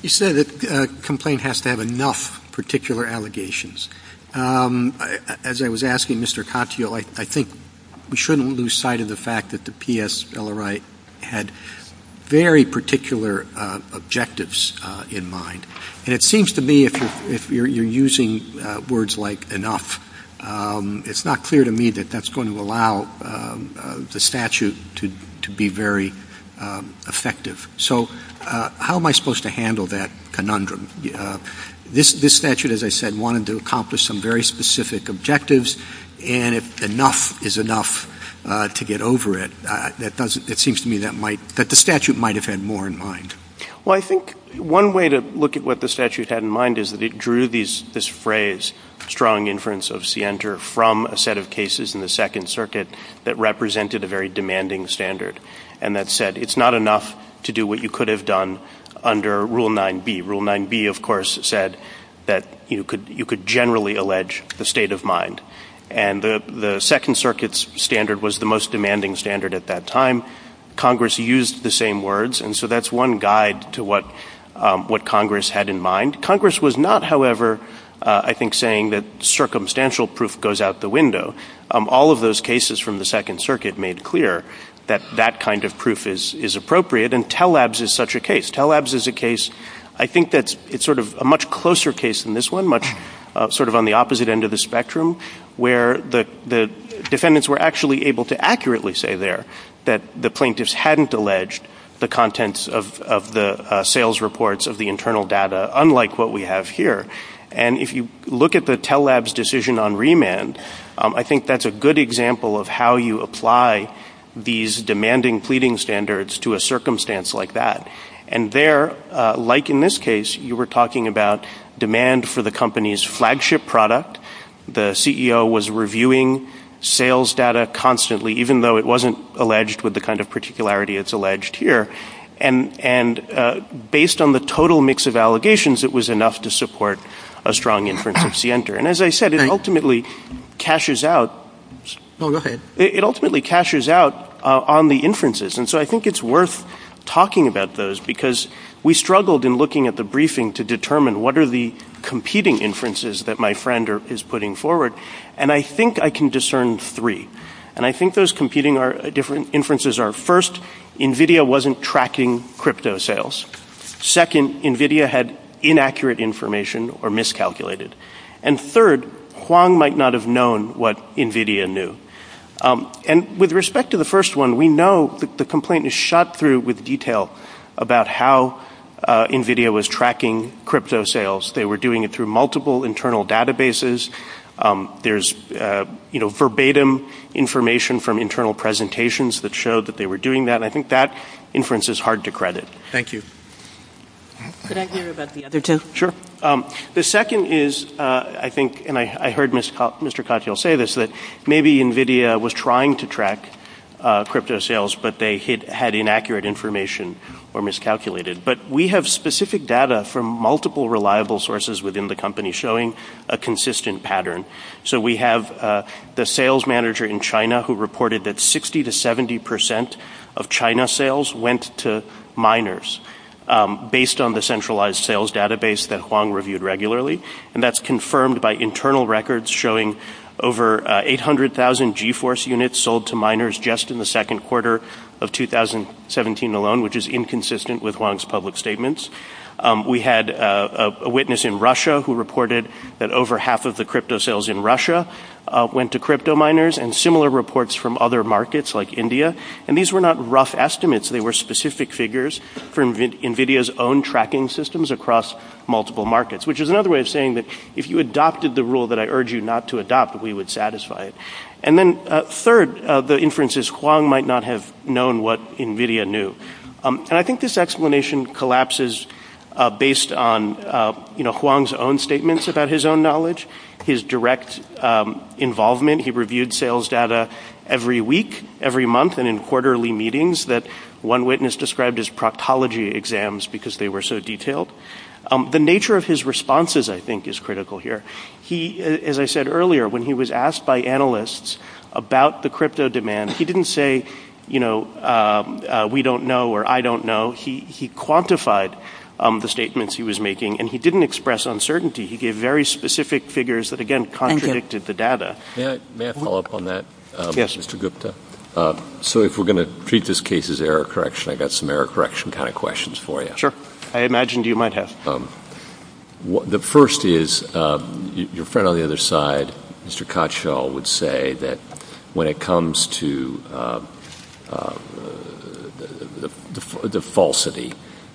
You said that a complaint has to have enough particular allegations. As I was asking Mr. Katyal, I think we shouldn't lose sight of the fact that the PSLRI had very particular objectives in mind. And it seems to me if you're using words like enough, it's not clear to me that that's going to allow the statute to be very effective. So how am I supposed to handle that conundrum? This statute, as I said, wanted to accomplish some very specific objectives, and if enough is enough to get over it, it seems to me that the statute might have had more in mind. Well, I think one way to look at what the statute had in mind is that it drew this phrase, strong inference of Sienter from a set of cases in the Second Circuit that represented a very demanding standard. And that said, it's not enough to do what you could have done under Rule 9b. Rule 9b, of course, said that you could generally allege the state of mind, and the Second Circuit's standard was the most demanding standard at that time. Congress used the same words, and so that's one guide to what Congress had in mind. Congress was not, however, I think, saying that circumstantial proof goes out the window. All of those cases from the Second Circuit made clear that that kind of proof is appropriate, and Tell Labs is such a case. Tell Labs is a case, I think that it's sort of a much closer case than this one, much sort of on the opposite end of the spectrum, where the defendants were actually able to accurately say there that the plaintiffs hadn't alleged the contents of the sales reports of the internal data, unlike what we have here. And if you look at the Tell Labs decision on remand, I think that's a good example of how you apply these demanding pleading standards to a circumstance like that. And there, like in this case, you were talking about demand for the company's flagship product. The CEO was reviewing sales data constantly, even though it wasn't alleged with the kind of particularity it's alleged here. And based on the total mix of allegations, it was enough to support a strong inference of scienter. And as I said, it ultimately cashes out on the inferences. And so I think it's worth talking about those, because we struggled in looking at the briefing to determine what are the competing inferences that my friend is putting forward. And I think I can discern three. And I think those competing inferences are, first, NVIDIA wasn't tracking crypto sales. Second, NVIDIA had inaccurate information or miscalculated. And third, Huang might not have known what NVIDIA knew. And with respect to the first one, we know that the complaint is shot through with detail about how NVIDIA was tracking crypto sales. They were doing it through multiple internal databases. There's, you know, verbatim information from internal presentations that showed that they were doing that. I think that inference is hard to credit. Thank you. Could I hear about the other two? Sure. The second is, I think, and I heard Mr. Cotfield say this, that maybe NVIDIA was trying to track crypto sales, but they had inaccurate information or miscalculated. But we have specific data from multiple reliable sources within the company showing a consistent pattern. So we have the sales manager in China who reported that 60 to 70 percent of China sales went to miners based on the centralized sales database that Huang reviewed regularly. And that's confirmed by internal records showing over 800,000 G-Force units sold to miners just in the second quarter of 2017 alone, which is inconsistent with Huang's public statements. We had a witness in Russia who reported that over half of the crypto sales in Russia went to crypto miners and similar reports from other markets like India. And these were not rough estimates. They were specific figures from NVIDIA's own tracking systems across multiple markets, which is another way of saying that if you adopted the rule that I urge you not to adopt, we would satisfy it. And then third, the inference is Huang might not have known what NVIDIA knew. And I think this explanation collapses based on Huang's own statements about his own knowledge, his direct involvement. He reviewed sales data every week, every month and in quarterly meetings that one witness described as proctology exams because they were so detailed. The nature of his responses, I think, is critical here. As I said earlier, when he was asked by analysts about the crypto demand, he didn't say, you know, we don't know or I don't know. He quantified the statements he was making and he didn't express uncertainty. He gave very specific figures that, again, contradicted the data. May I follow up on that? Yes, Mr. Gupta. So if we're going to treat this case as error correction, I got some error correction kind of questions for you. Sure. I imagined you might have. The first is your friend on the other side, Mr. Kotschall, would say that when it comes to the falsity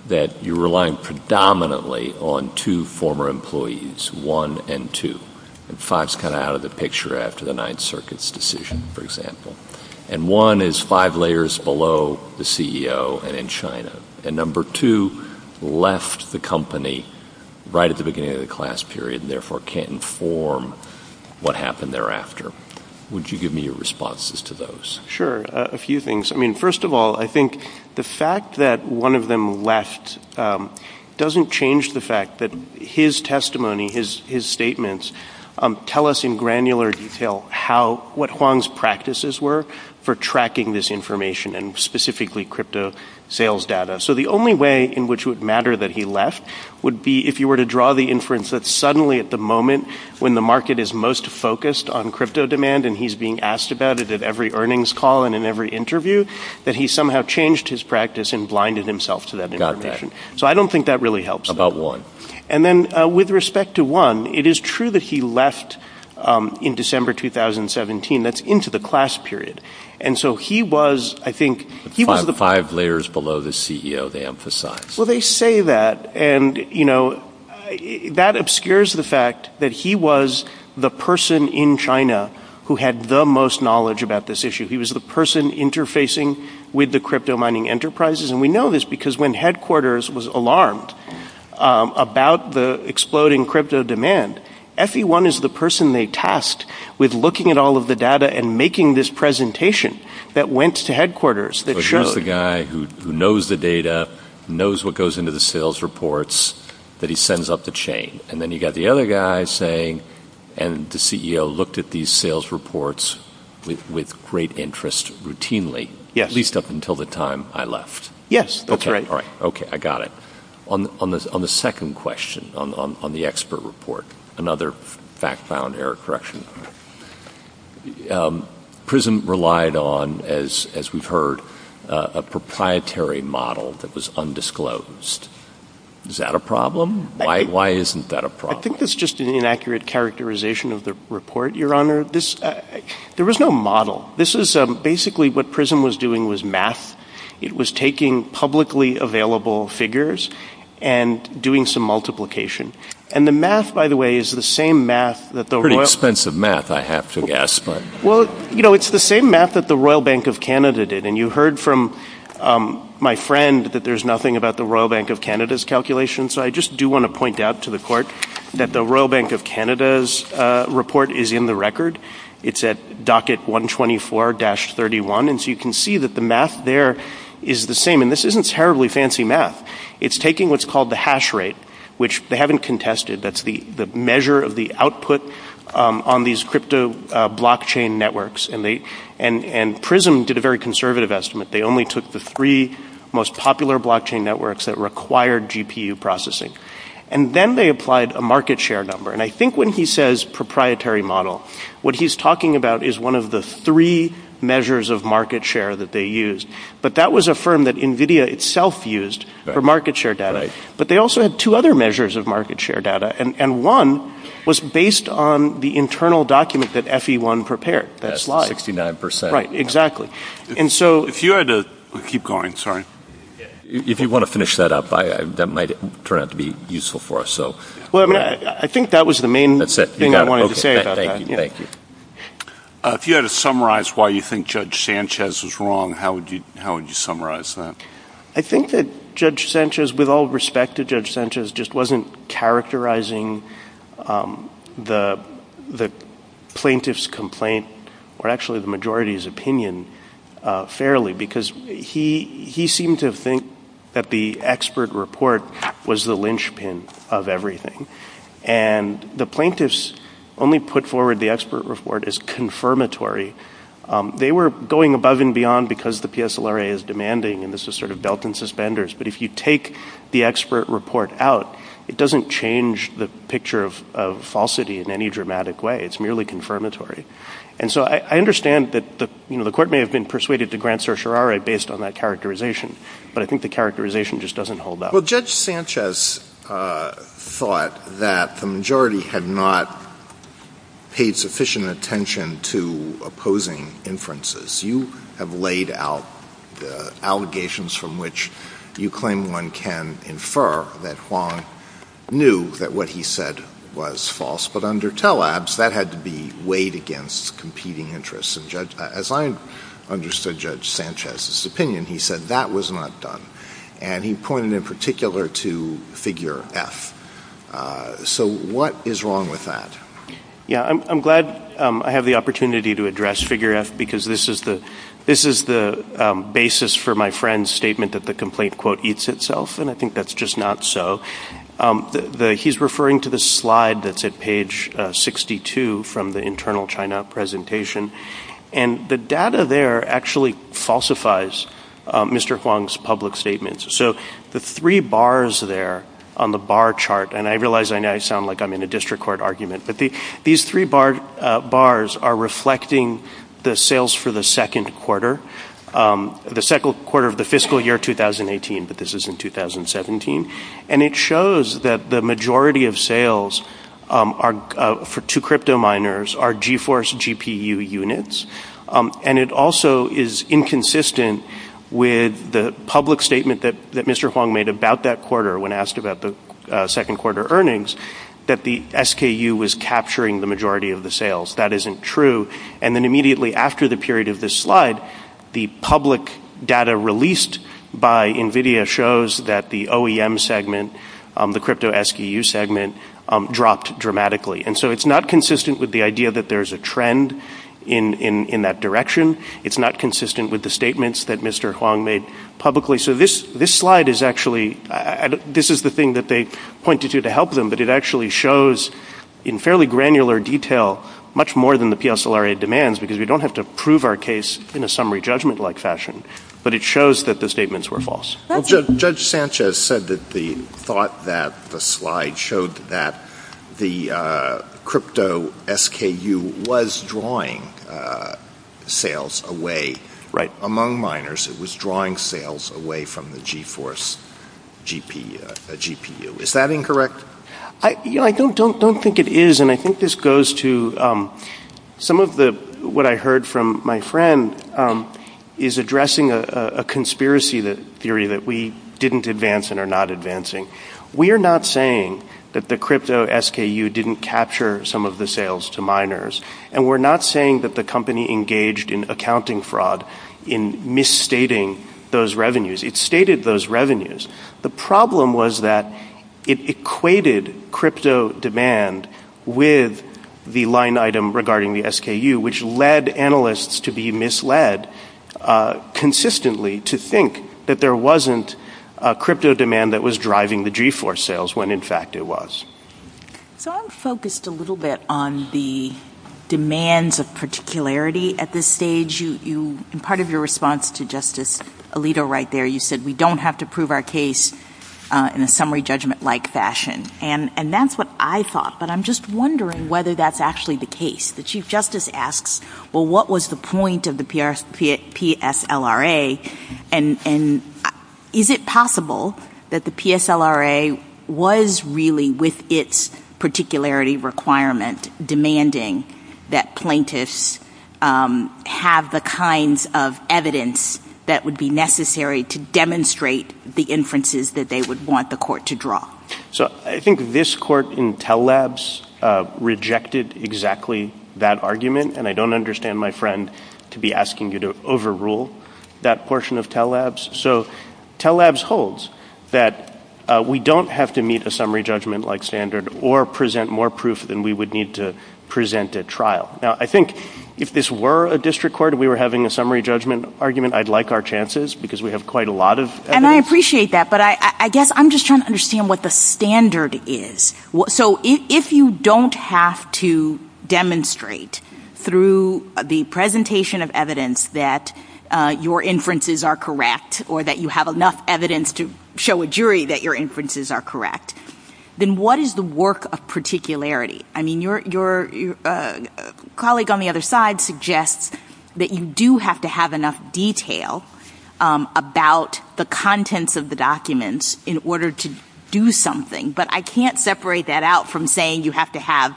that you're relying predominantly on two former employees, one and two. And five is kind of out of the picture after the Ninth Circuit's decision, for example. And one is five layers below the CEO and in China. And number two left the company right at the beginning of the class period and therefore can't inform what happened thereafter. Would you give me your responses to those? Sure. A few things. I mean, first of all, I think the fact that one of them left doesn't change the fact that his testimony, his statements, tell us in granular detail what Huang's practices were for tracking this information and specifically crypto sales data. So the only way in which it would matter that he left would be if you were to draw the inference that suddenly at the moment when the market is most focused on crypto demand and he's being asked about it at every earnings call and in every interview that he somehow changed his practice and blinded himself to that. So I don't think that really helps about one. And then with respect to one, it is true that he left in December 2017. That's into the class period. Five layers below the CEO, they emphasize. Well, they say that. And that obscures the fact that he was the person in China who had the most knowledge about this issue. He was the person interfacing with the crypto mining enterprises. And we know this because when headquarters was alarmed about the exploding crypto demand, everyone is the person they tasked with looking at all of the data and making this presentation that went to headquarters. The guy who knows the data knows what goes into the sales reports that he sends up the chain. And then you got the other guy saying and the CEO looked at these sales reports with great interest routinely. Yes, at least up until the time I left. Yes. OK. All right. OK. I got it. On the second question, on the expert report, another fact found error correction. Prism relied on, as we've heard, a proprietary model that was undisclosed. Is that a problem? Why isn't that a problem? I think that's just an inaccurate characterization of the report, Your Honor. There was no model. This is basically what Prism was doing was math. It was taking publicly available figures and doing some multiplication. And the math, by the way, is the same math that the Royal Bank of Canada did. And you heard from my friend that there's nothing about the Royal Bank of Canada's calculations. I just do want to point out to the court that the Royal Bank of Canada's report is in the record. It's at docket 124-31. And so you can see that the math there is the same. And this isn't terribly fancy math. It's taking what's called the hash rate, which they haven't contested. That's the measure of the output on these crypto blockchain networks. And Prism did a very conservative estimate. They only took the three most popular blockchain networks that required GPU processing. And then they applied a market share number. And I think when he says proprietary model, what he's talking about is one of the three measures of market share that they used. But that was a firm that NVIDIA itself used for market share data. But they also had two other measures of market share data. And one was based on the internal document that FE1 prepared. That slide. 69 percent. Right, exactly. And so if you had to keep going, sorry. If you want to finish that up, that might turn out to be useful for us. I think that was the main thing I wanted to say about that. If you had to summarize why you think Judge Sanchez was wrong, how would you summarize that? I think that Judge Sanchez, with all respect to Judge Sanchez, just wasn't characterizing the plaintiff's complaint, or actually the majority's opinion, fairly. Because he seemed to think that the expert report was the linchpin of everything. And the plaintiffs only put forward the expert report as confirmatory. They were going above and beyond because the PSLRA is demanding, and this is sort of belt and suspenders. But if you take the expert report out, it doesn't change the picture of falsity in any dramatic way. It's merely confirmatory. And so I understand that the court may have been persuaded to grant certiorari based on that characterization. But I think the characterization just doesn't hold up. Well, Judge Sanchez thought that the majority had not paid sufficient attention to opposing inferences. You have laid out allegations from which you claim one can infer that Huang knew that what he said was false. But under TELABS, that had to be weighed against competing interests. And as I understood Judge Sanchez's opinion, he said that was not done. And he pointed in particular to figure F. So what is wrong with that? Yeah, I'm glad I have the opportunity to address figure F because this is the basis for my friend's statement that the complaint, quote, eats itself. And I think that's just not so. He's referring to the slide that's at page 62 from the internal China presentation. And the data there actually falsifies Mr. Huang's public statements. So the three bars there on the bar chart, and I realize I sound like I'm in a district court argument, but these three bars are reflecting the sales for the second quarter, the second quarter of the fiscal year 2018. But this is in 2017. And it shows that the majority of sales for two crypto miners are GeForce GPU units. And it also is inconsistent with the public statement that Mr. Huang made about that quarter when asked about the second quarter earnings, that the SKU was capturing the majority of the sales. That isn't true. And then immediately after the period of this slide, the public data released by NVIDIA shows that the OEM segment, the crypto SKU segment, dropped dramatically. And so it's not consistent with the idea that there's a trend in that direction. It's not consistent with the statements that Mr. Huang made publicly. So this slide is actually, this is the thing that they pointed to to help them, but it actually shows in fairly granular detail much more than the PSLRA demands, because we don't have to prove our case in a summary judgment-like fashion. But it shows that the statements were false. Judge Sanchez said that the thought that the slide showed that the crypto SKU was drawing sales away. Among miners, it was drawing sales away from the GeForce GPU. Is that incorrect? I don't think it is. Some of what I heard from my friend is addressing a conspiracy theory that we didn't advance and are not advancing. We are not saying that the crypto SKU didn't capture some of the sales to miners. And we're not saying that the company engaged in accounting fraud in misstating those revenues. It stated those revenues. The problem was that it equated crypto demand with the line item regarding the SKU, which led analysts to be misled consistently to think that there wasn't crypto demand that was driving the GeForce sales, when in fact it was. So I'm focused a little bit on the demands of particularity at this stage. In part of your response to Justice Alito right there, you said, we don't have to prove our case in a summary judgment-like fashion. And that's what I thought. But I'm just wondering whether that's actually the case. The Chief Justice asks, well, what was the point of the PSLRA? And is it possible that the PSLRA was really, with its particularity requirement, demanding that plaintiffs have the kinds of evidence that would be necessary to demonstrate the inferences that they would want the court to draw? So I think this court, Intel Labs, rejected exactly that argument. And I don't understand my friend to be asking you to overrule that portion of Intel Labs. So Intel Labs holds that we don't have to meet a summary judgment-like standard or present more proof than we would need to present at trial. Now, I think if this were a district court and we were having a summary judgment argument, I'd like our chances because we have quite a lot of evidence. And I appreciate that. But I guess I'm just trying to understand what the standard is. So if you don't have to demonstrate through the presentation of evidence that your inferences are correct or that you have enough evidence to show a jury that your inferences are correct, then what is the work of particularity? I mean, your colleague on the other side suggests that you do have to have enough detail about the contents of the documents in order to do something. But I can't separate that out from saying you have to have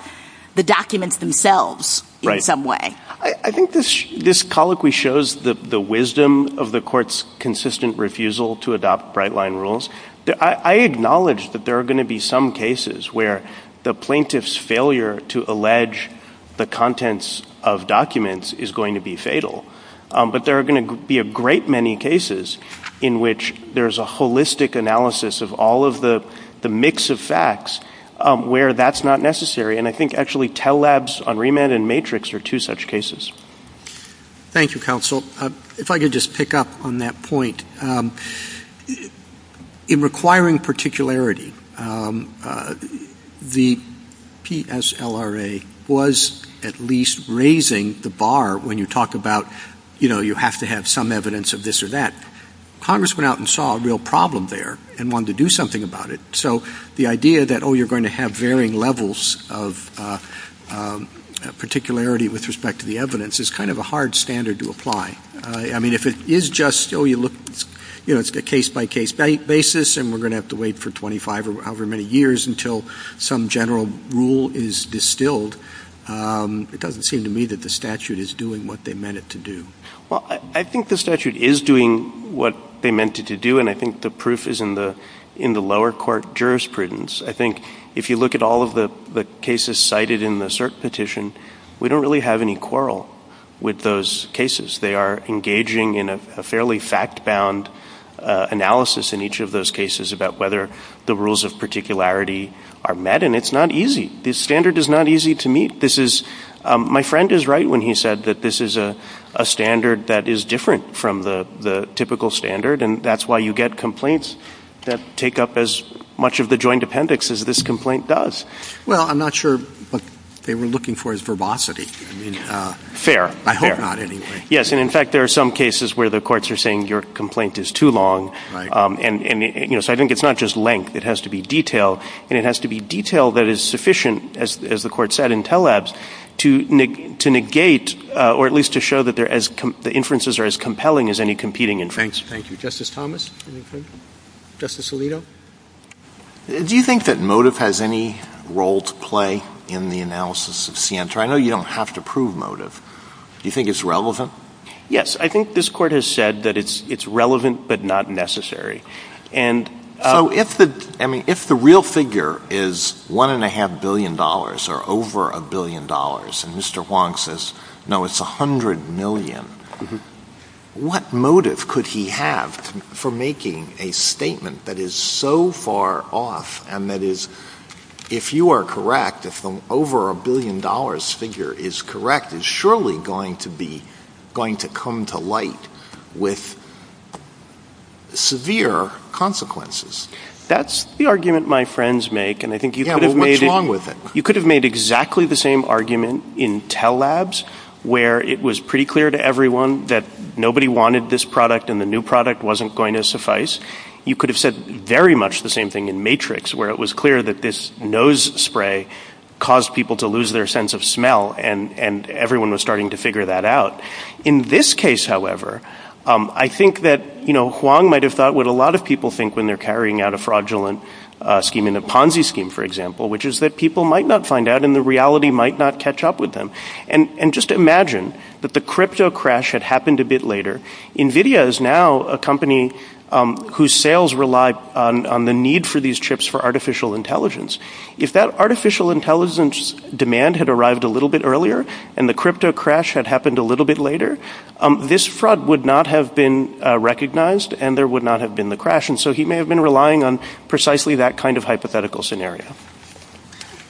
the documents themselves in some way. I think this colloquy shows the wisdom of the court's consistent refusal to adopt bright-line rules. I acknowledge that there are going to be some cases where the plaintiff's failure to allege the contents of documents is going to be fatal. But there are going to be a great many cases in which there's a holistic analysis of all of the mix of facts where that's not necessary. And I think actually TELL Labs on remand and matrix are two such cases. Thank you, counsel. If I could just pick up on that point. In requiring particularity, the PSLRA was at least raising the bar when you talk about, you know, you have to have some evidence of this or that. Congress went out and saw a real problem there and wanted to do something about it. So the idea that, oh, you're going to have varying levels of particularity with respect to the evidence is kind of a hard standard to apply. I mean, if it is just, oh, you look, you know, it's a case-by-case basis, and we're going to have to wait for 25 or however many years until some general rule is distilled, it doesn't seem to me that the statute is doing what they meant it to do. Well, I think the statute is doing what they meant it to do, and I think the proof is in the lower court jurisprudence. I think if you look at all of the cases cited in the cert petition, we don't really have any quarrel with those cases. They are engaging in a fairly fact-bound analysis in each of those cases about whether the rules of particularity are met, and it's not easy. This standard is not easy to meet. My friend is right when he said that this is a standard that is different from the typical standard, and that's why you get complaints that take up as much of the joint appendix as this complaint does. Well, I'm not sure what they were looking for is verbosity. Fair. Fair. I hope not, anyway. Yes, and in fact, there are some cases where the courts are saying your complaint is too long. So I think it's not just length. It has to be detail, and it has to be detail that is sufficient, as the court said in Telabs, to negate or at least to show that the inferences are as compelling as any competing inference. Thank you. Justice Thomas? Justice Alito? Do you think that motive has any role to play in the analysis of scienter? I know you don't have to prove motive. Do you think it's relevant? Yes, I think this court has said that it's relevant but not necessary. I mean, if the real figure is $1.5 billion or over $1 billion, and Mr. Huang says, no, it's $100 million, what motive could he have for making a statement that is so far off, and that is, if you are correct, if the over $1 billion figure is correct, is surely going to come to light with severe consequences? That's the argument my friends make, and I think you could have made exactly the same argument in Telabs, where it was pretty clear to everyone that nobody wanted this product, and the new product wasn't going to suffice. You could have said very much the same thing in Matrix, where it was clear that this nose spray caused people to lose their sense of smell, and everyone was starting to figure that out. In this case, however, I think that Huang might have thought what a lot of people think when they're carrying out a fraudulent scheme in the Ponzi scheme, for example, which is that people might not find out and the reality might not catch up with them. And just imagine that the crypto crash had happened a bit later. NVIDIA is now a company whose sales rely on the need for these chips for artificial intelligence. If that artificial intelligence demand had arrived a little bit earlier, and the crypto crash had happened a little bit later, this fraud would not have been recognized and there would not have been the crash, and so he may have been relying on precisely that kind of hypothetical scenario.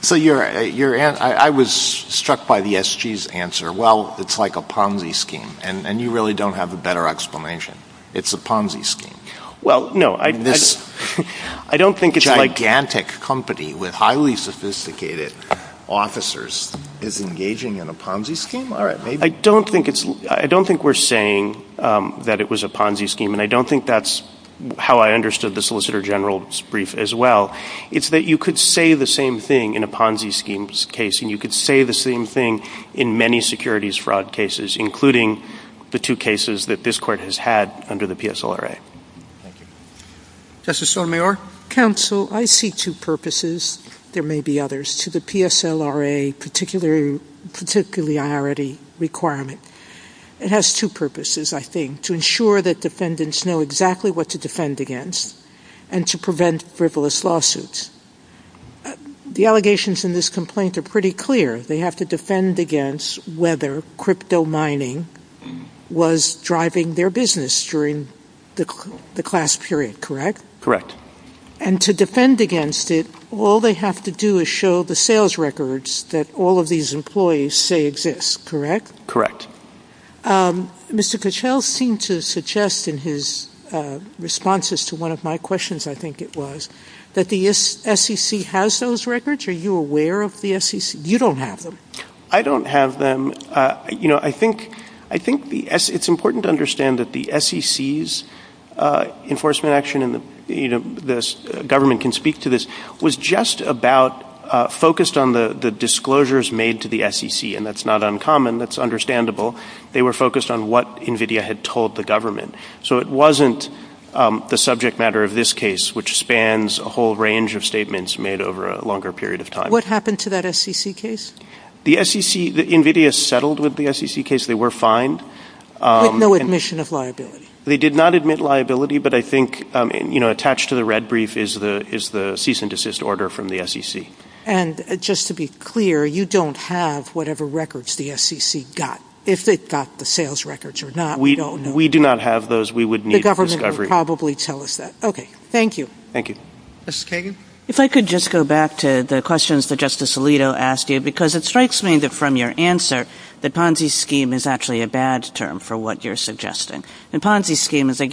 So I was struck by the SG's answer, well, it's like a Ponzi scheme, and you really don't have a better explanation. It's a Ponzi scheme. This gigantic company with highly sophisticated officers is engaging in a Ponzi scheme? I don't think we're saying that it was a Ponzi scheme, and I don't think that's how I understood the Solicitor General's brief as well. It's that you could say the same thing in a Ponzi scheme case, and you could say the same thing in many securities fraud cases, including the two cases that this court has had under the PSLRA. Justice Sotomayor? Counsel, I see two purposes, there may be others, to the PSLRA particularity requirement. It has two purposes, I think. To ensure that defendants know exactly what to defend against, and to prevent frivolous lawsuits. The allegations in this complaint are pretty clear. They have to defend against whether crypto mining was driving their business during the class period, correct? And to defend against it, all they have to do is show the sales records that all of these employees say exist, correct? Mr. Kuchel seemed to suggest in his responses to one of my questions, I think it was, that the SEC has those records? Are you aware of the SEC? You don't have them. I don't have them. You know, I think it's important to understand that the SEC's enforcement action, and the government can speak to this, was just about focused on the disclosures made to the SEC. And that's not uncommon, that's understandable. They were focused on what NVIDIA had told the government. So it wasn't the subject matter of this case, which spans a whole range of statements made over a longer period of time. What happened to that SEC case? The SEC, NVIDIA settled with the SEC case, they were fined. With no admission of liability? They did not admit liability, but I think attached to the red brief is the cease and desist order from the SEC. And just to be clear, you don't have whatever records the SEC got. If it got the sales records or not, we don't know. If we do not have those, we would need a discovery. The government would probably tell us that. Okay, thank you. Thank you. Mrs. Kagan? If I could just go back to the questions that Justice Alito asked you, because it strikes me that from your answer, the Ponzi scheme is actually a bad term for what you're suggesting. The Ponzi scheme is that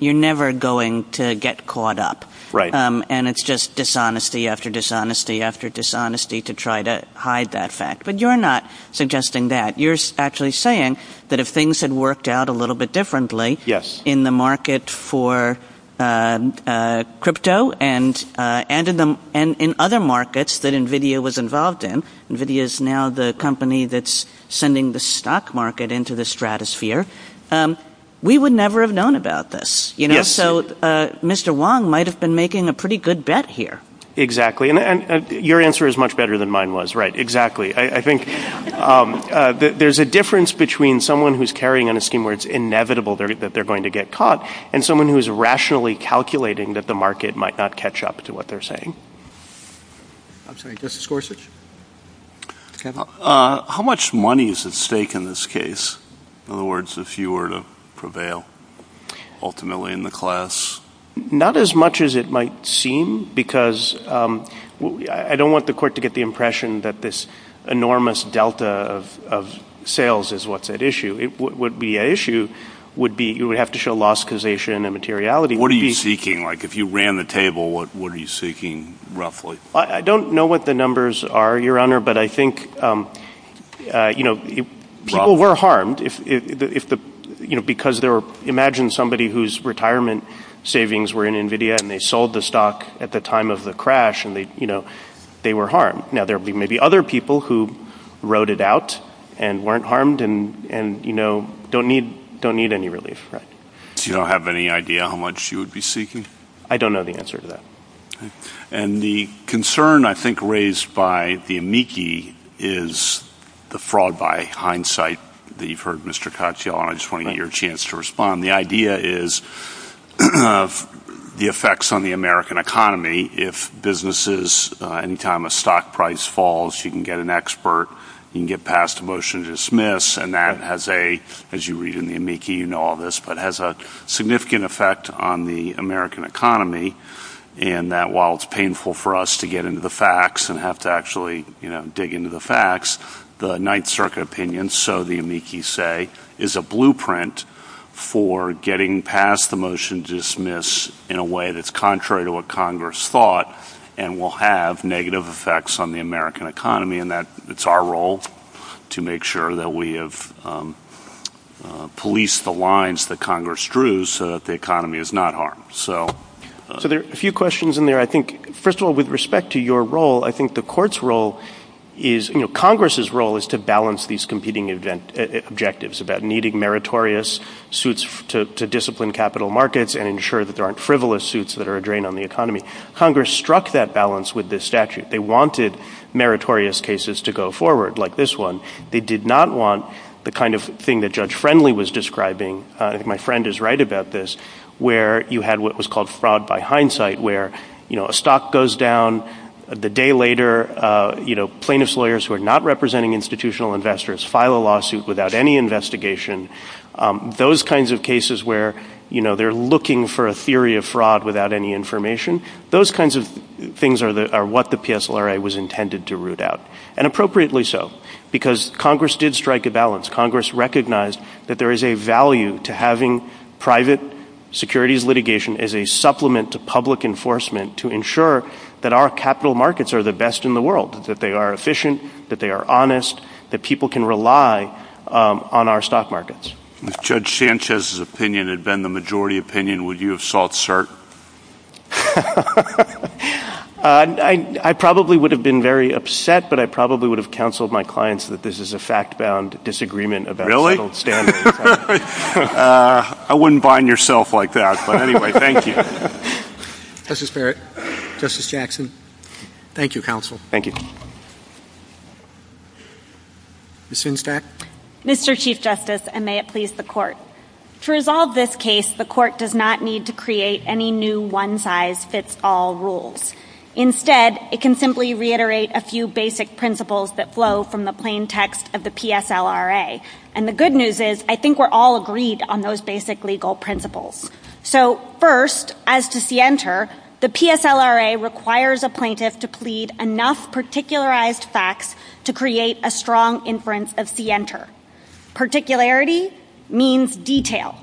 you're never going to get caught up. Right. And it's just dishonesty after dishonesty after dishonesty to try to hide that fact. But you're not suggesting that. You're actually saying that if things had worked out a little bit differently in the market for crypto and in other markets that NVIDIA was involved in, NVIDIA is now the company that's sending the stock market into the stratosphere, we would never have known about this. So Mr. Wong might have been making a pretty good bet here. Exactly. And your answer is much better than mine was. Right. Exactly. I think there's a difference between someone who's carrying on a scheme where it's inevitable that they're going to get caught and someone who is rationally calculating that the market might not catch up to what they're saying. I'm sorry. Justice Gorsuch? How much money is at stake in this case? In other words, if you were to prevail ultimately in the class? Not as much as it might seem because I don't want the court to get the impression that this enormous delta of sales is what's at issue. What would be at issue would be you would have to show loss causation and materiality. What are you seeking? Like if you ran the table, what are you seeking roughly? I don't know what the numbers are, Your Honor, but I think people were harmed because imagine somebody whose retirement savings were in NVIDIA and they sold the stock at the time of the crash and they were harmed. Now, there may be other people who wrote it out and weren't harmed and don't need any relief. So you don't have any idea how much you would be seeking? I don't know the answer to that. The concern, I think, raised by the amici is the fraud by hindsight. You've heard Mr. Cocciola, and I just want to get your chance to respond. The idea is the effects on the American economy. If businesses' income or stock price falls, you can get an expert, you can get passed a motion to dismiss, and that has a, as you read in the amici, you know all this, but has a significant effect on the American economy. And that while it's painful for us to get into the facts and have to actually dig into the facts, the Ninth Circuit opinion, so the amici say, is a blueprint for getting past the motion to dismiss in a way that's contrary to what Congress thought and will have negative effects on the American economy. And it's our role to make sure that we have policed the lines that Congress drew so that the economy is not harmed. So there are a few questions in there. I think, first of all, with respect to your role, I think the court's role is, you know, Congress's role is to balance these competing objectives about needing meritorious suits to discipline capital markets and ensure that there aren't frivolous suits that are a drain on the economy. Congress struck that balance with this statute. They wanted meritorious cases to go forward like this one. They did not want the kind of thing that Judge Friendly was describing, and my friend is right about this, where you had what was called fraud by hindsight, where, you know, a stock goes down, the day later, you know, plaintiff's lawyers who are not representing institutional investors file a lawsuit without any investigation. Those kinds of cases where, you know, they're looking for a theory of fraud without any information, those kinds of things are what the PSLRA was intended to root out. And appropriately so, because Congress did strike a balance. Congress recognized that there is a value to having private securities litigation as a supplement to public enforcement to ensure that our capital markets are the best in the world, that they are efficient, that they are honest, that people can rely on our stock markets. If Judge Sanchez's opinion had been the majority opinion, would you have sought cert? I probably would have been very upset, but I probably would have counseled my clients that this is a fact-bound disagreement about settled standards. I wouldn't bind yourself like that. But anyway, thank you. Justice Barrett. Justice Jackson. Thank you, counsel. Thank you. Ms. Sinstrack. Mr. Chief Justice, and may it please the Court. To resolve this case, the Court does not need to create any new one-size-fits-all rules. Instead, it can simply reiterate a few basic principles that flow from the plain text of the PSLRA. And the good news is, I think we're all agreed on those basic legal principles. So first, as to CENTER, the PSLRA requires a plaintiff to plead enough particularized facts to create a strong inference of CENTER. Particularity means detail.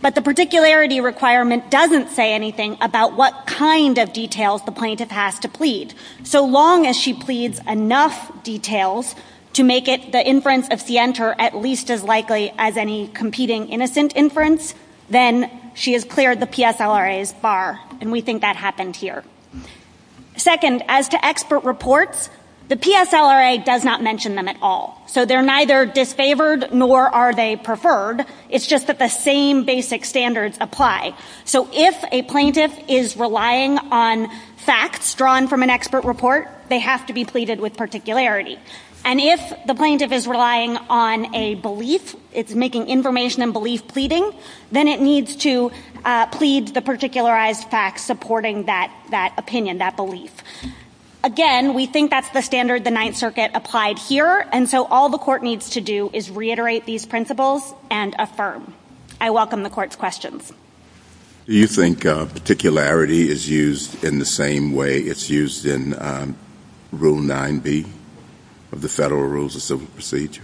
But the particularity requirement doesn't say anything about what kind of details the plaintiff has to plead. So long as she pleads enough details to make the inference of CENTER at least as likely as any competing innocent inference, then she has cleared the PSLRA's bar. And we think that happened here. Second, as to expert reports, the PSLRA does not mention them at all. So they're neither disfavored nor are they preferred. It's just that the same basic standards apply. So if a plaintiff is relying on facts drawn from an expert report, they have to be pleaded with particularity. And if the plaintiff is relying on a belief, is making information and belief pleading, then it needs to plead the particularized facts supporting that opinion, that belief. Again, we think that's the standard the Ninth Circuit applied here. And so all the court needs to do is reiterate these principles and affirm. I welcome the court's questions. Do you think particularity is used in the same way it's used in Rule 9b of the Federal Rules of Civil Procedure?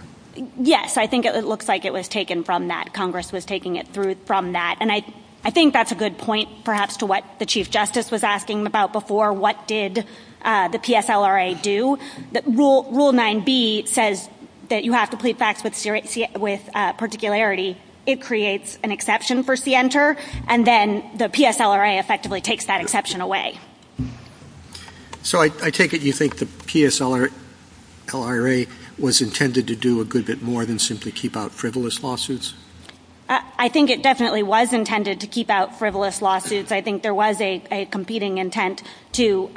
Yes. I think it looks like it was taken from that. Congress was taking it from that. And I think that's a good point, perhaps, to what the Chief Justice was asking about before. What did the PSLRA do? Rule 9b says that you have to plead facts with particularity. It creates an exception for CNTR, and then the PSLRA effectively takes that exception away. So I take it you think the PSLRA was intended to do a good bit more than simply keep out frivolous lawsuits? I think it definitely was intended to keep out frivolous lawsuits. I think there was a competing intent to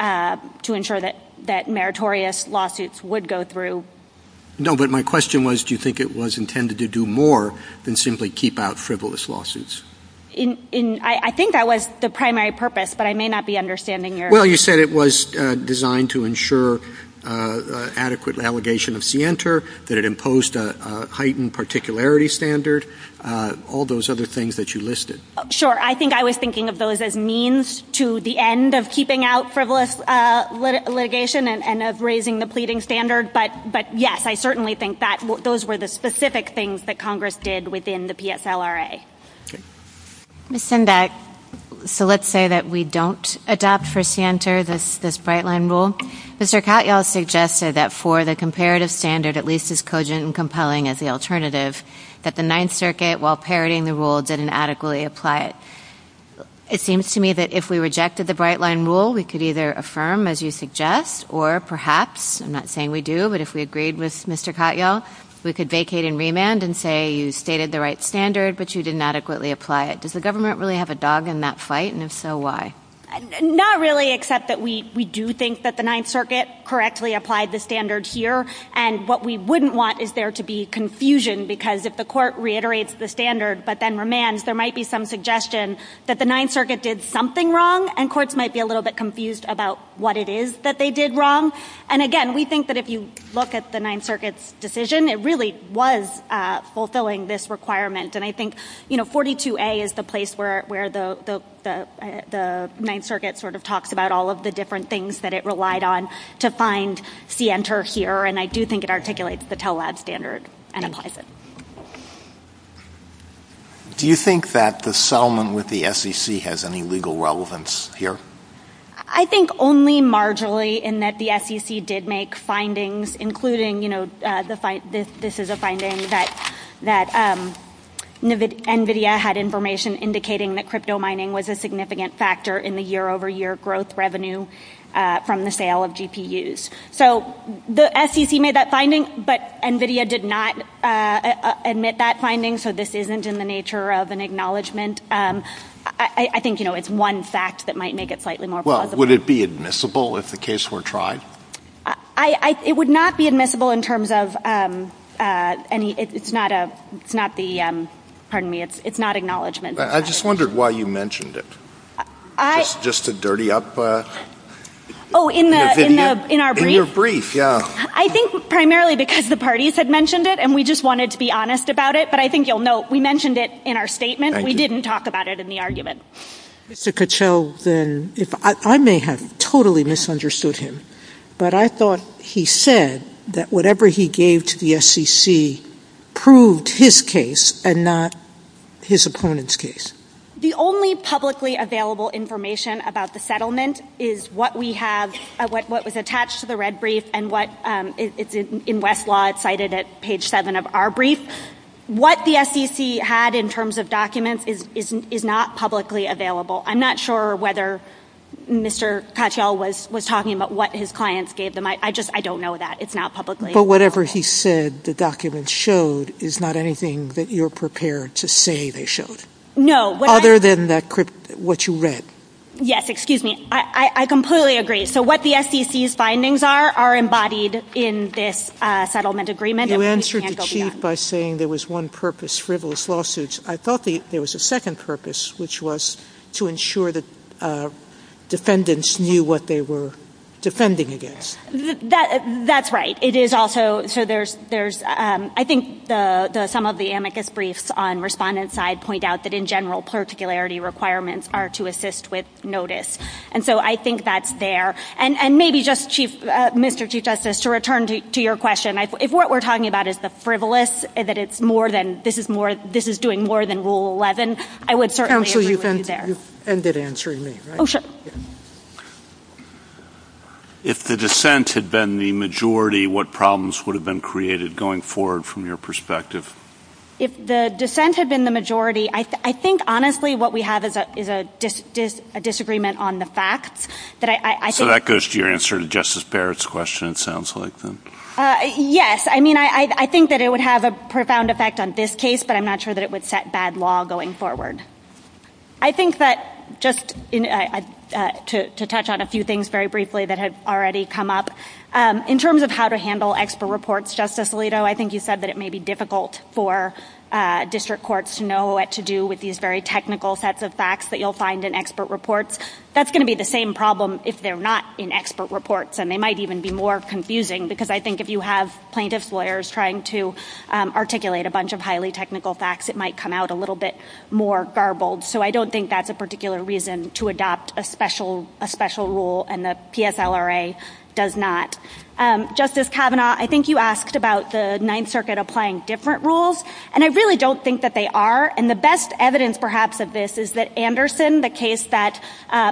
ensure that meritorious lawsuits would go through. No, but my question was, do you think it was intended to do more than simply keep out frivolous lawsuits? I think that was the primary purpose, but I may not be understanding your— Well, you said it was designed to ensure adequate allegation of CNTR, that it imposed a heightened particularity standard, all those other things that you listed. Sure. I think I was thinking of those as means to the end of keeping out frivolous litigation and of raising the pleading standard. But, yes, I certainly think that those were the specific things that Congress did within the PSLRA. Okay. Ms. Sendak, so let's say that we don't adopt for CNTR this bright-line rule. Mr. Katyal suggested that for the comparative standard, at least as cogent and compelling as the alternative, that the Ninth Circuit, while parroting the rule, didn't adequately apply it. It seems to me that if we rejected the bright-line rule, we could either affirm, as you suggest, or perhaps—I'm not saying we do, but if we agreed with Mr. Katyal, we could vacate and remand and say you stated the right standard, but you didn't adequately apply it. Does the government really have a dog in that fight, and if so, why? Not really, except that we do think that the Ninth Circuit correctly applied the standard here, and what we wouldn't want is there to be confusion, because if the court reiterates the standard, but then remands, there might be some suggestion that the Ninth Circuit did something wrong, and courts might be a little bit confused about what it is that they did wrong. And, again, we think that if you look at the Ninth Circuit's decision, it really was fulfilling this requirement. And I think, you know, 42A is the place where the Ninth Circuit sort of talked about all of the different things that it relied on to find the enter here, and I do think it articulates the Pell Lab standard. Do you think that the settlement with the SEC has any legal relevance here? I think only marginally in that the SEC did make findings, including, you know, this is a finding that NVIDIA had information indicating that crypto mining was a significant factor in the year-over-year growth revenue from the sale of GPUs. So the SEC made that finding, but NVIDIA did not admit that finding, so this isn't in the nature of an acknowledgement. I think, you know, it's one fact that might make it slightly more plausible. Well, would it be admissible if the case were tried? It would not be admissible in terms of any – it's not a – it's not the – pardon me – it's not acknowledgement. I just wondered why you mentioned it. Just to dirty up NVIDIA? Oh, in our brief? In your brief, yeah. I think primarily because the parties had mentioned it, and we just wanted to be honest about it, but I think you'll note we mentioned it in our statement. Thank you. We didn't talk about it in the argument. Mr. Kuchel, then, I may have totally misunderstood him, but I thought he said that whatever he gave to the SEC proved his case and not his opponent's case. The only publicly available information about the settlement is what we have – what was attached to the red brief and what – in Westlaw, it's cited at page seven of our brief. What the SEC had in terms of documents is not publicly available. I'm not sure whether Mr. Kuchel was talking about what his clients gave them. I just – I don't know that. It's not publicly available. But whatever he said the documents showed is not anything that you're prepared to say they showed. No. Other than what you read. Yes. Excuse me. I completely agree. So what the SEC's findings are are embodied in this settlement agreement. You answered the chief by saying there was one purpose for those lawsuits. I thought there was a second purpose, which was to ensure that defendants knew what they were defending against. That's right. It is also – so there's – I think some of the amicus briefs on respondent's side point out that, in general, particularity requirements are to assist with notice. And so I think that's there. And maybe just, Mr. Chief Justice, to return to your question, if what we're talking about is the frivolous, that it's more than – this is doing more than Rule 11, I would certainly agree with you there. Counsel, you can end it answering me. Oh, sure. If the dissent had been the majority, what problems would have been created going forward from your perspective? If the dissent had been the majority, I think, honestly, what we have is a disagreement on the facts. So that goes to your answer to Justice Barrett's question, it sounds like. Yes. I mean, I think that it would have a profound effect on this case, but I'm not sure that it would set bad law going forward. I think that just to touch on a few things very briefly that have already come up. In terms of how to handle expert reports, Justice Alito, I think you said that it may be difficult for district courts to know what to do with these very technical sets of facts that you'll find in expert reports. That's going to be the same problem if they're not in expert reports, and they might even be more confusing, because I think if you have plaintiff's lawyers trying to articulate a bunch of highly technical facts, it might come out a little bit more garbled. So I don't think that's a particular reason to adopt a special rule, and the PSLRA does not. Justice Kavanaugh, I think you asked about the Ninth Circuit applying different rules, and I really don't think that they are. And the best evidence, perhaps, of this is that Anderson, the case that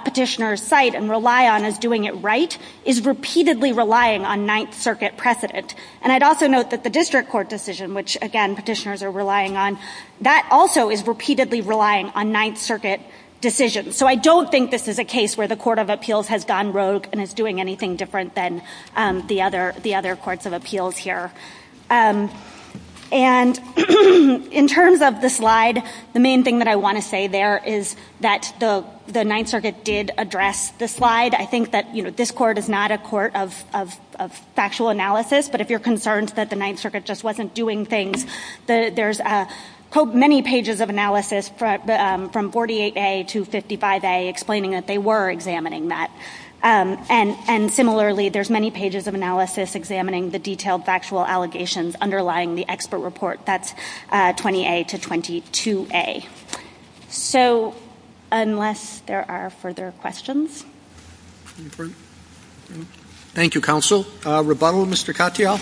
petitioners cite and rely on as doing it right, is repeatedly relying on Ninth Circuit precedent. And I'd also note that the district court decision, which, again, petitioners are relying on, that also is repeatedly relying on Ninth Circuit decisions. So I don't think this is a case where the Court of Appeals has gone rogue and is doing anything different than the other courts of appeals here. And in terms of the slide, the main thing that I want to say there is that the Ninth Circuit did address the slide. I think that this court is not a court of factual analysis, but if you're concerned that the Ninth Circuit just wasn't doing things, there's many pages of analysis from 48A to 55A explaining that they were examining that. And similarly, there's many pages of analysis examining the detailed factual allegations underlying the expert report. That's 20A to 22A. So unless there are further questions. Thank you, Counsel. Rebuttal, Mr. Katyal.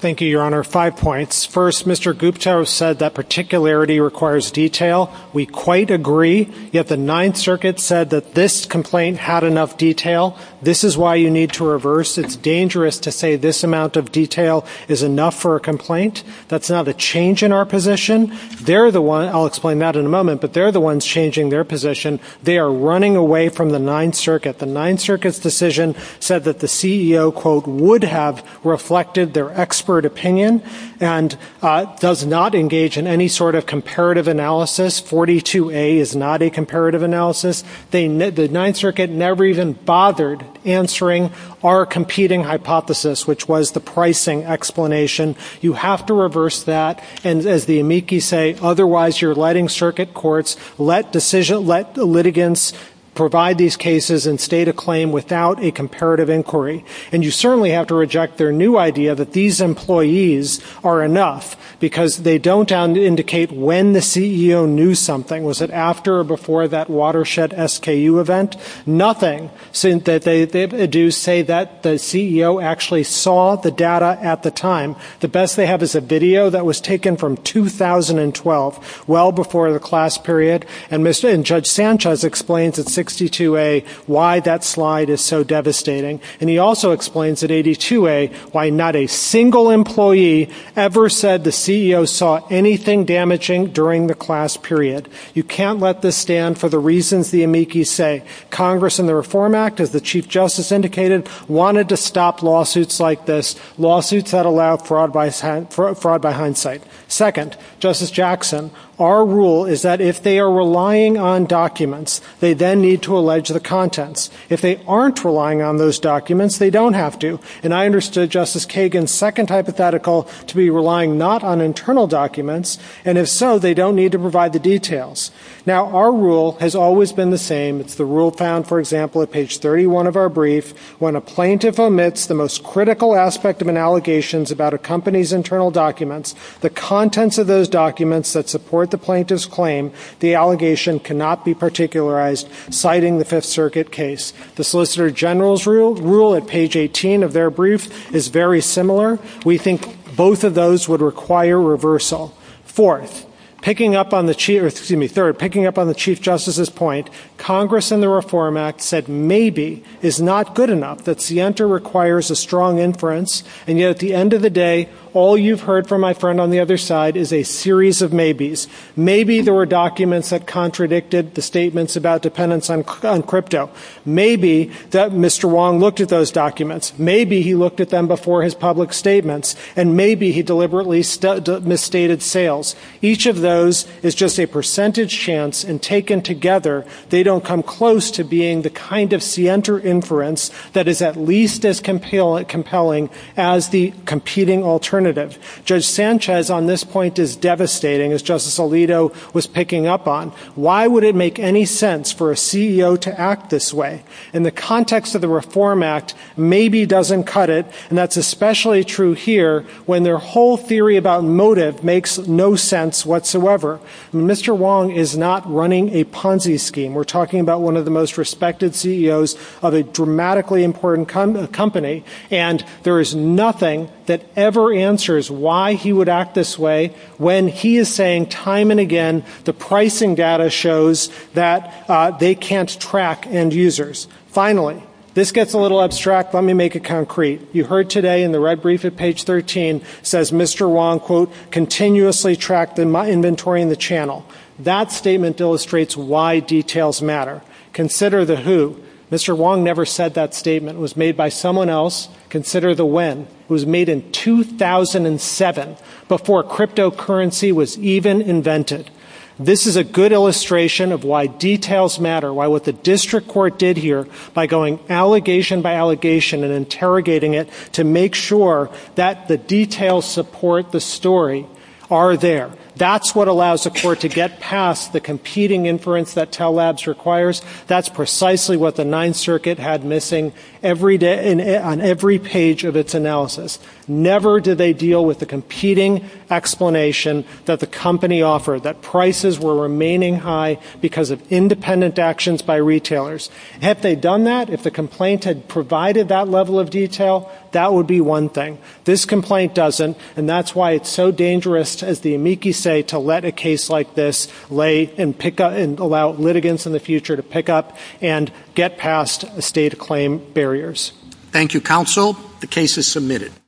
Thank you, Your Honor. Five points. First, Mr. Gupta said that particularity requires detail. We quite agree, yet the Ninth Circuit said that this complaint had enough detail. This is why you need to reverse. It's dangerous to say this amount of detail is enough for a complaint. That's not a change in our position. I'll explain that in a moment, but they're the ones changing their position. They are running away from the Ninth Circuit. The Ninth Circuit's decision said that the CEO, quote, would have reflected their expert opinion and does not engage in any sort of comparative analysis. 42A is not a comparative analysis. The Ninth Circuit never even bothered answering our competing hypothesis, which was the pricing explanation. You have to reverse that. And as the amici say, otherwise you're letting circuit courts let the litigants provide these cases and state a claim without a comparative inquiry. And you certainly have to reject their new idea that these employees are enough because they don't indicate when the CEO knew something. Was it after or before that Watershed SKU event? Nothing. They do say that the CEO actually saw the data at the time. The best they have is a video that was taken from 2012, well before the class period. And Judge Sanchez explains at 62A why that slide is so devastating. And he also explains at 82A why not a single employee ever said the CEO saw anything damaging during the class period. You can't let this stand for the reasons the amici say. Congress and the Reform Act, as the Chief Justice indicated, wanted to stop lawsuits like this, lawsuits that allow fraud by hindsight. Second, Justice Jackson, our rule is that if they are relying on documents, they then need to allege the contents. If they aren't relying on those documents, they don't have to. And I understood Justice Kagan's second hypothetical to be relying not on internal documents, and if so, they don't need to provide the details. Now, our rule has always been the same. It's the rule found, for example, at page 31 of our brief, when a plaintiff omits the most critical aspect of an allegation about a company's internal documents, the contents of those documents that support the plaintiff's claim, the allegation cannot be particularized, citing the Fifth Circuit case. The Solicitor General's rule at page 18 of their brief is very similar. We think both of those would require reversal. Fourth, picking up on the Chief Justice's point, Congress and the Reform Act said maybe is not good enough, that SIENTA requires a strong inference, and yet at the end of the day, all you've heard from my friend on the other side is a series of maybes. Maybe there were documents that contradicted the statements about dependence on crypto. Maybe Mr. Wong looked at those documents. Maybe he looked at them before his public statements. And maybe he deliberately misstated sales. Each of those is just a percentage chance, and taken together, they don't come close to being the kind of SIENTA inference that is at least as compelling as the competing alternative. Judge Sanchez on this point is devastating, as Justice Alito was picking up on. Why would it make any sense for a CEO to act this way? In the context of the Reform Act, maybe doesn't cut it, and that's especially true here, when their whole theory about motive makes no sense whatsoever. Mr. Wong is not running a Ponzi scheme. We're talking about one of the most respected CEOs of a dramatically important company, and there is nothing that ever answers why he would act this way when he is saying time and again the pricing data shows that they can't track end users. Finally, this gets a little abstract, but let me make it concrete. You heard today in the red brief at page 13, says Mr. Wong, quote, continuously tracked in my inventory in the channel. That statement illustrates why details matter. Consider the who. Mr. Wong never said that statement. It was made by someone else. Consider the when. It was made in 2007, before cryptocurrency was even invented. This is a good illustration of why details matter, why what the district court did here by going allegation by allegation and interrogating it to make sure that the details support the story are there. That's what allows the court to get past the competing inference that Tell Labs requires. That's precisely what the Ninth Circuit had missing on every page of its analysis. Never did they deal with the competing explanation that the company offered, that prices were remaining high because of independent actions by retailers. Had they done that, if the complaint had provided that level of detail, that would be one thing. This complaint doesn't, and that's why it's so dangerous, as the amici say, to let a case like this lay and pick up and allow litigants in the future to pick up and get past the state of claim barriers. Thank you, counsel. The case is submitted.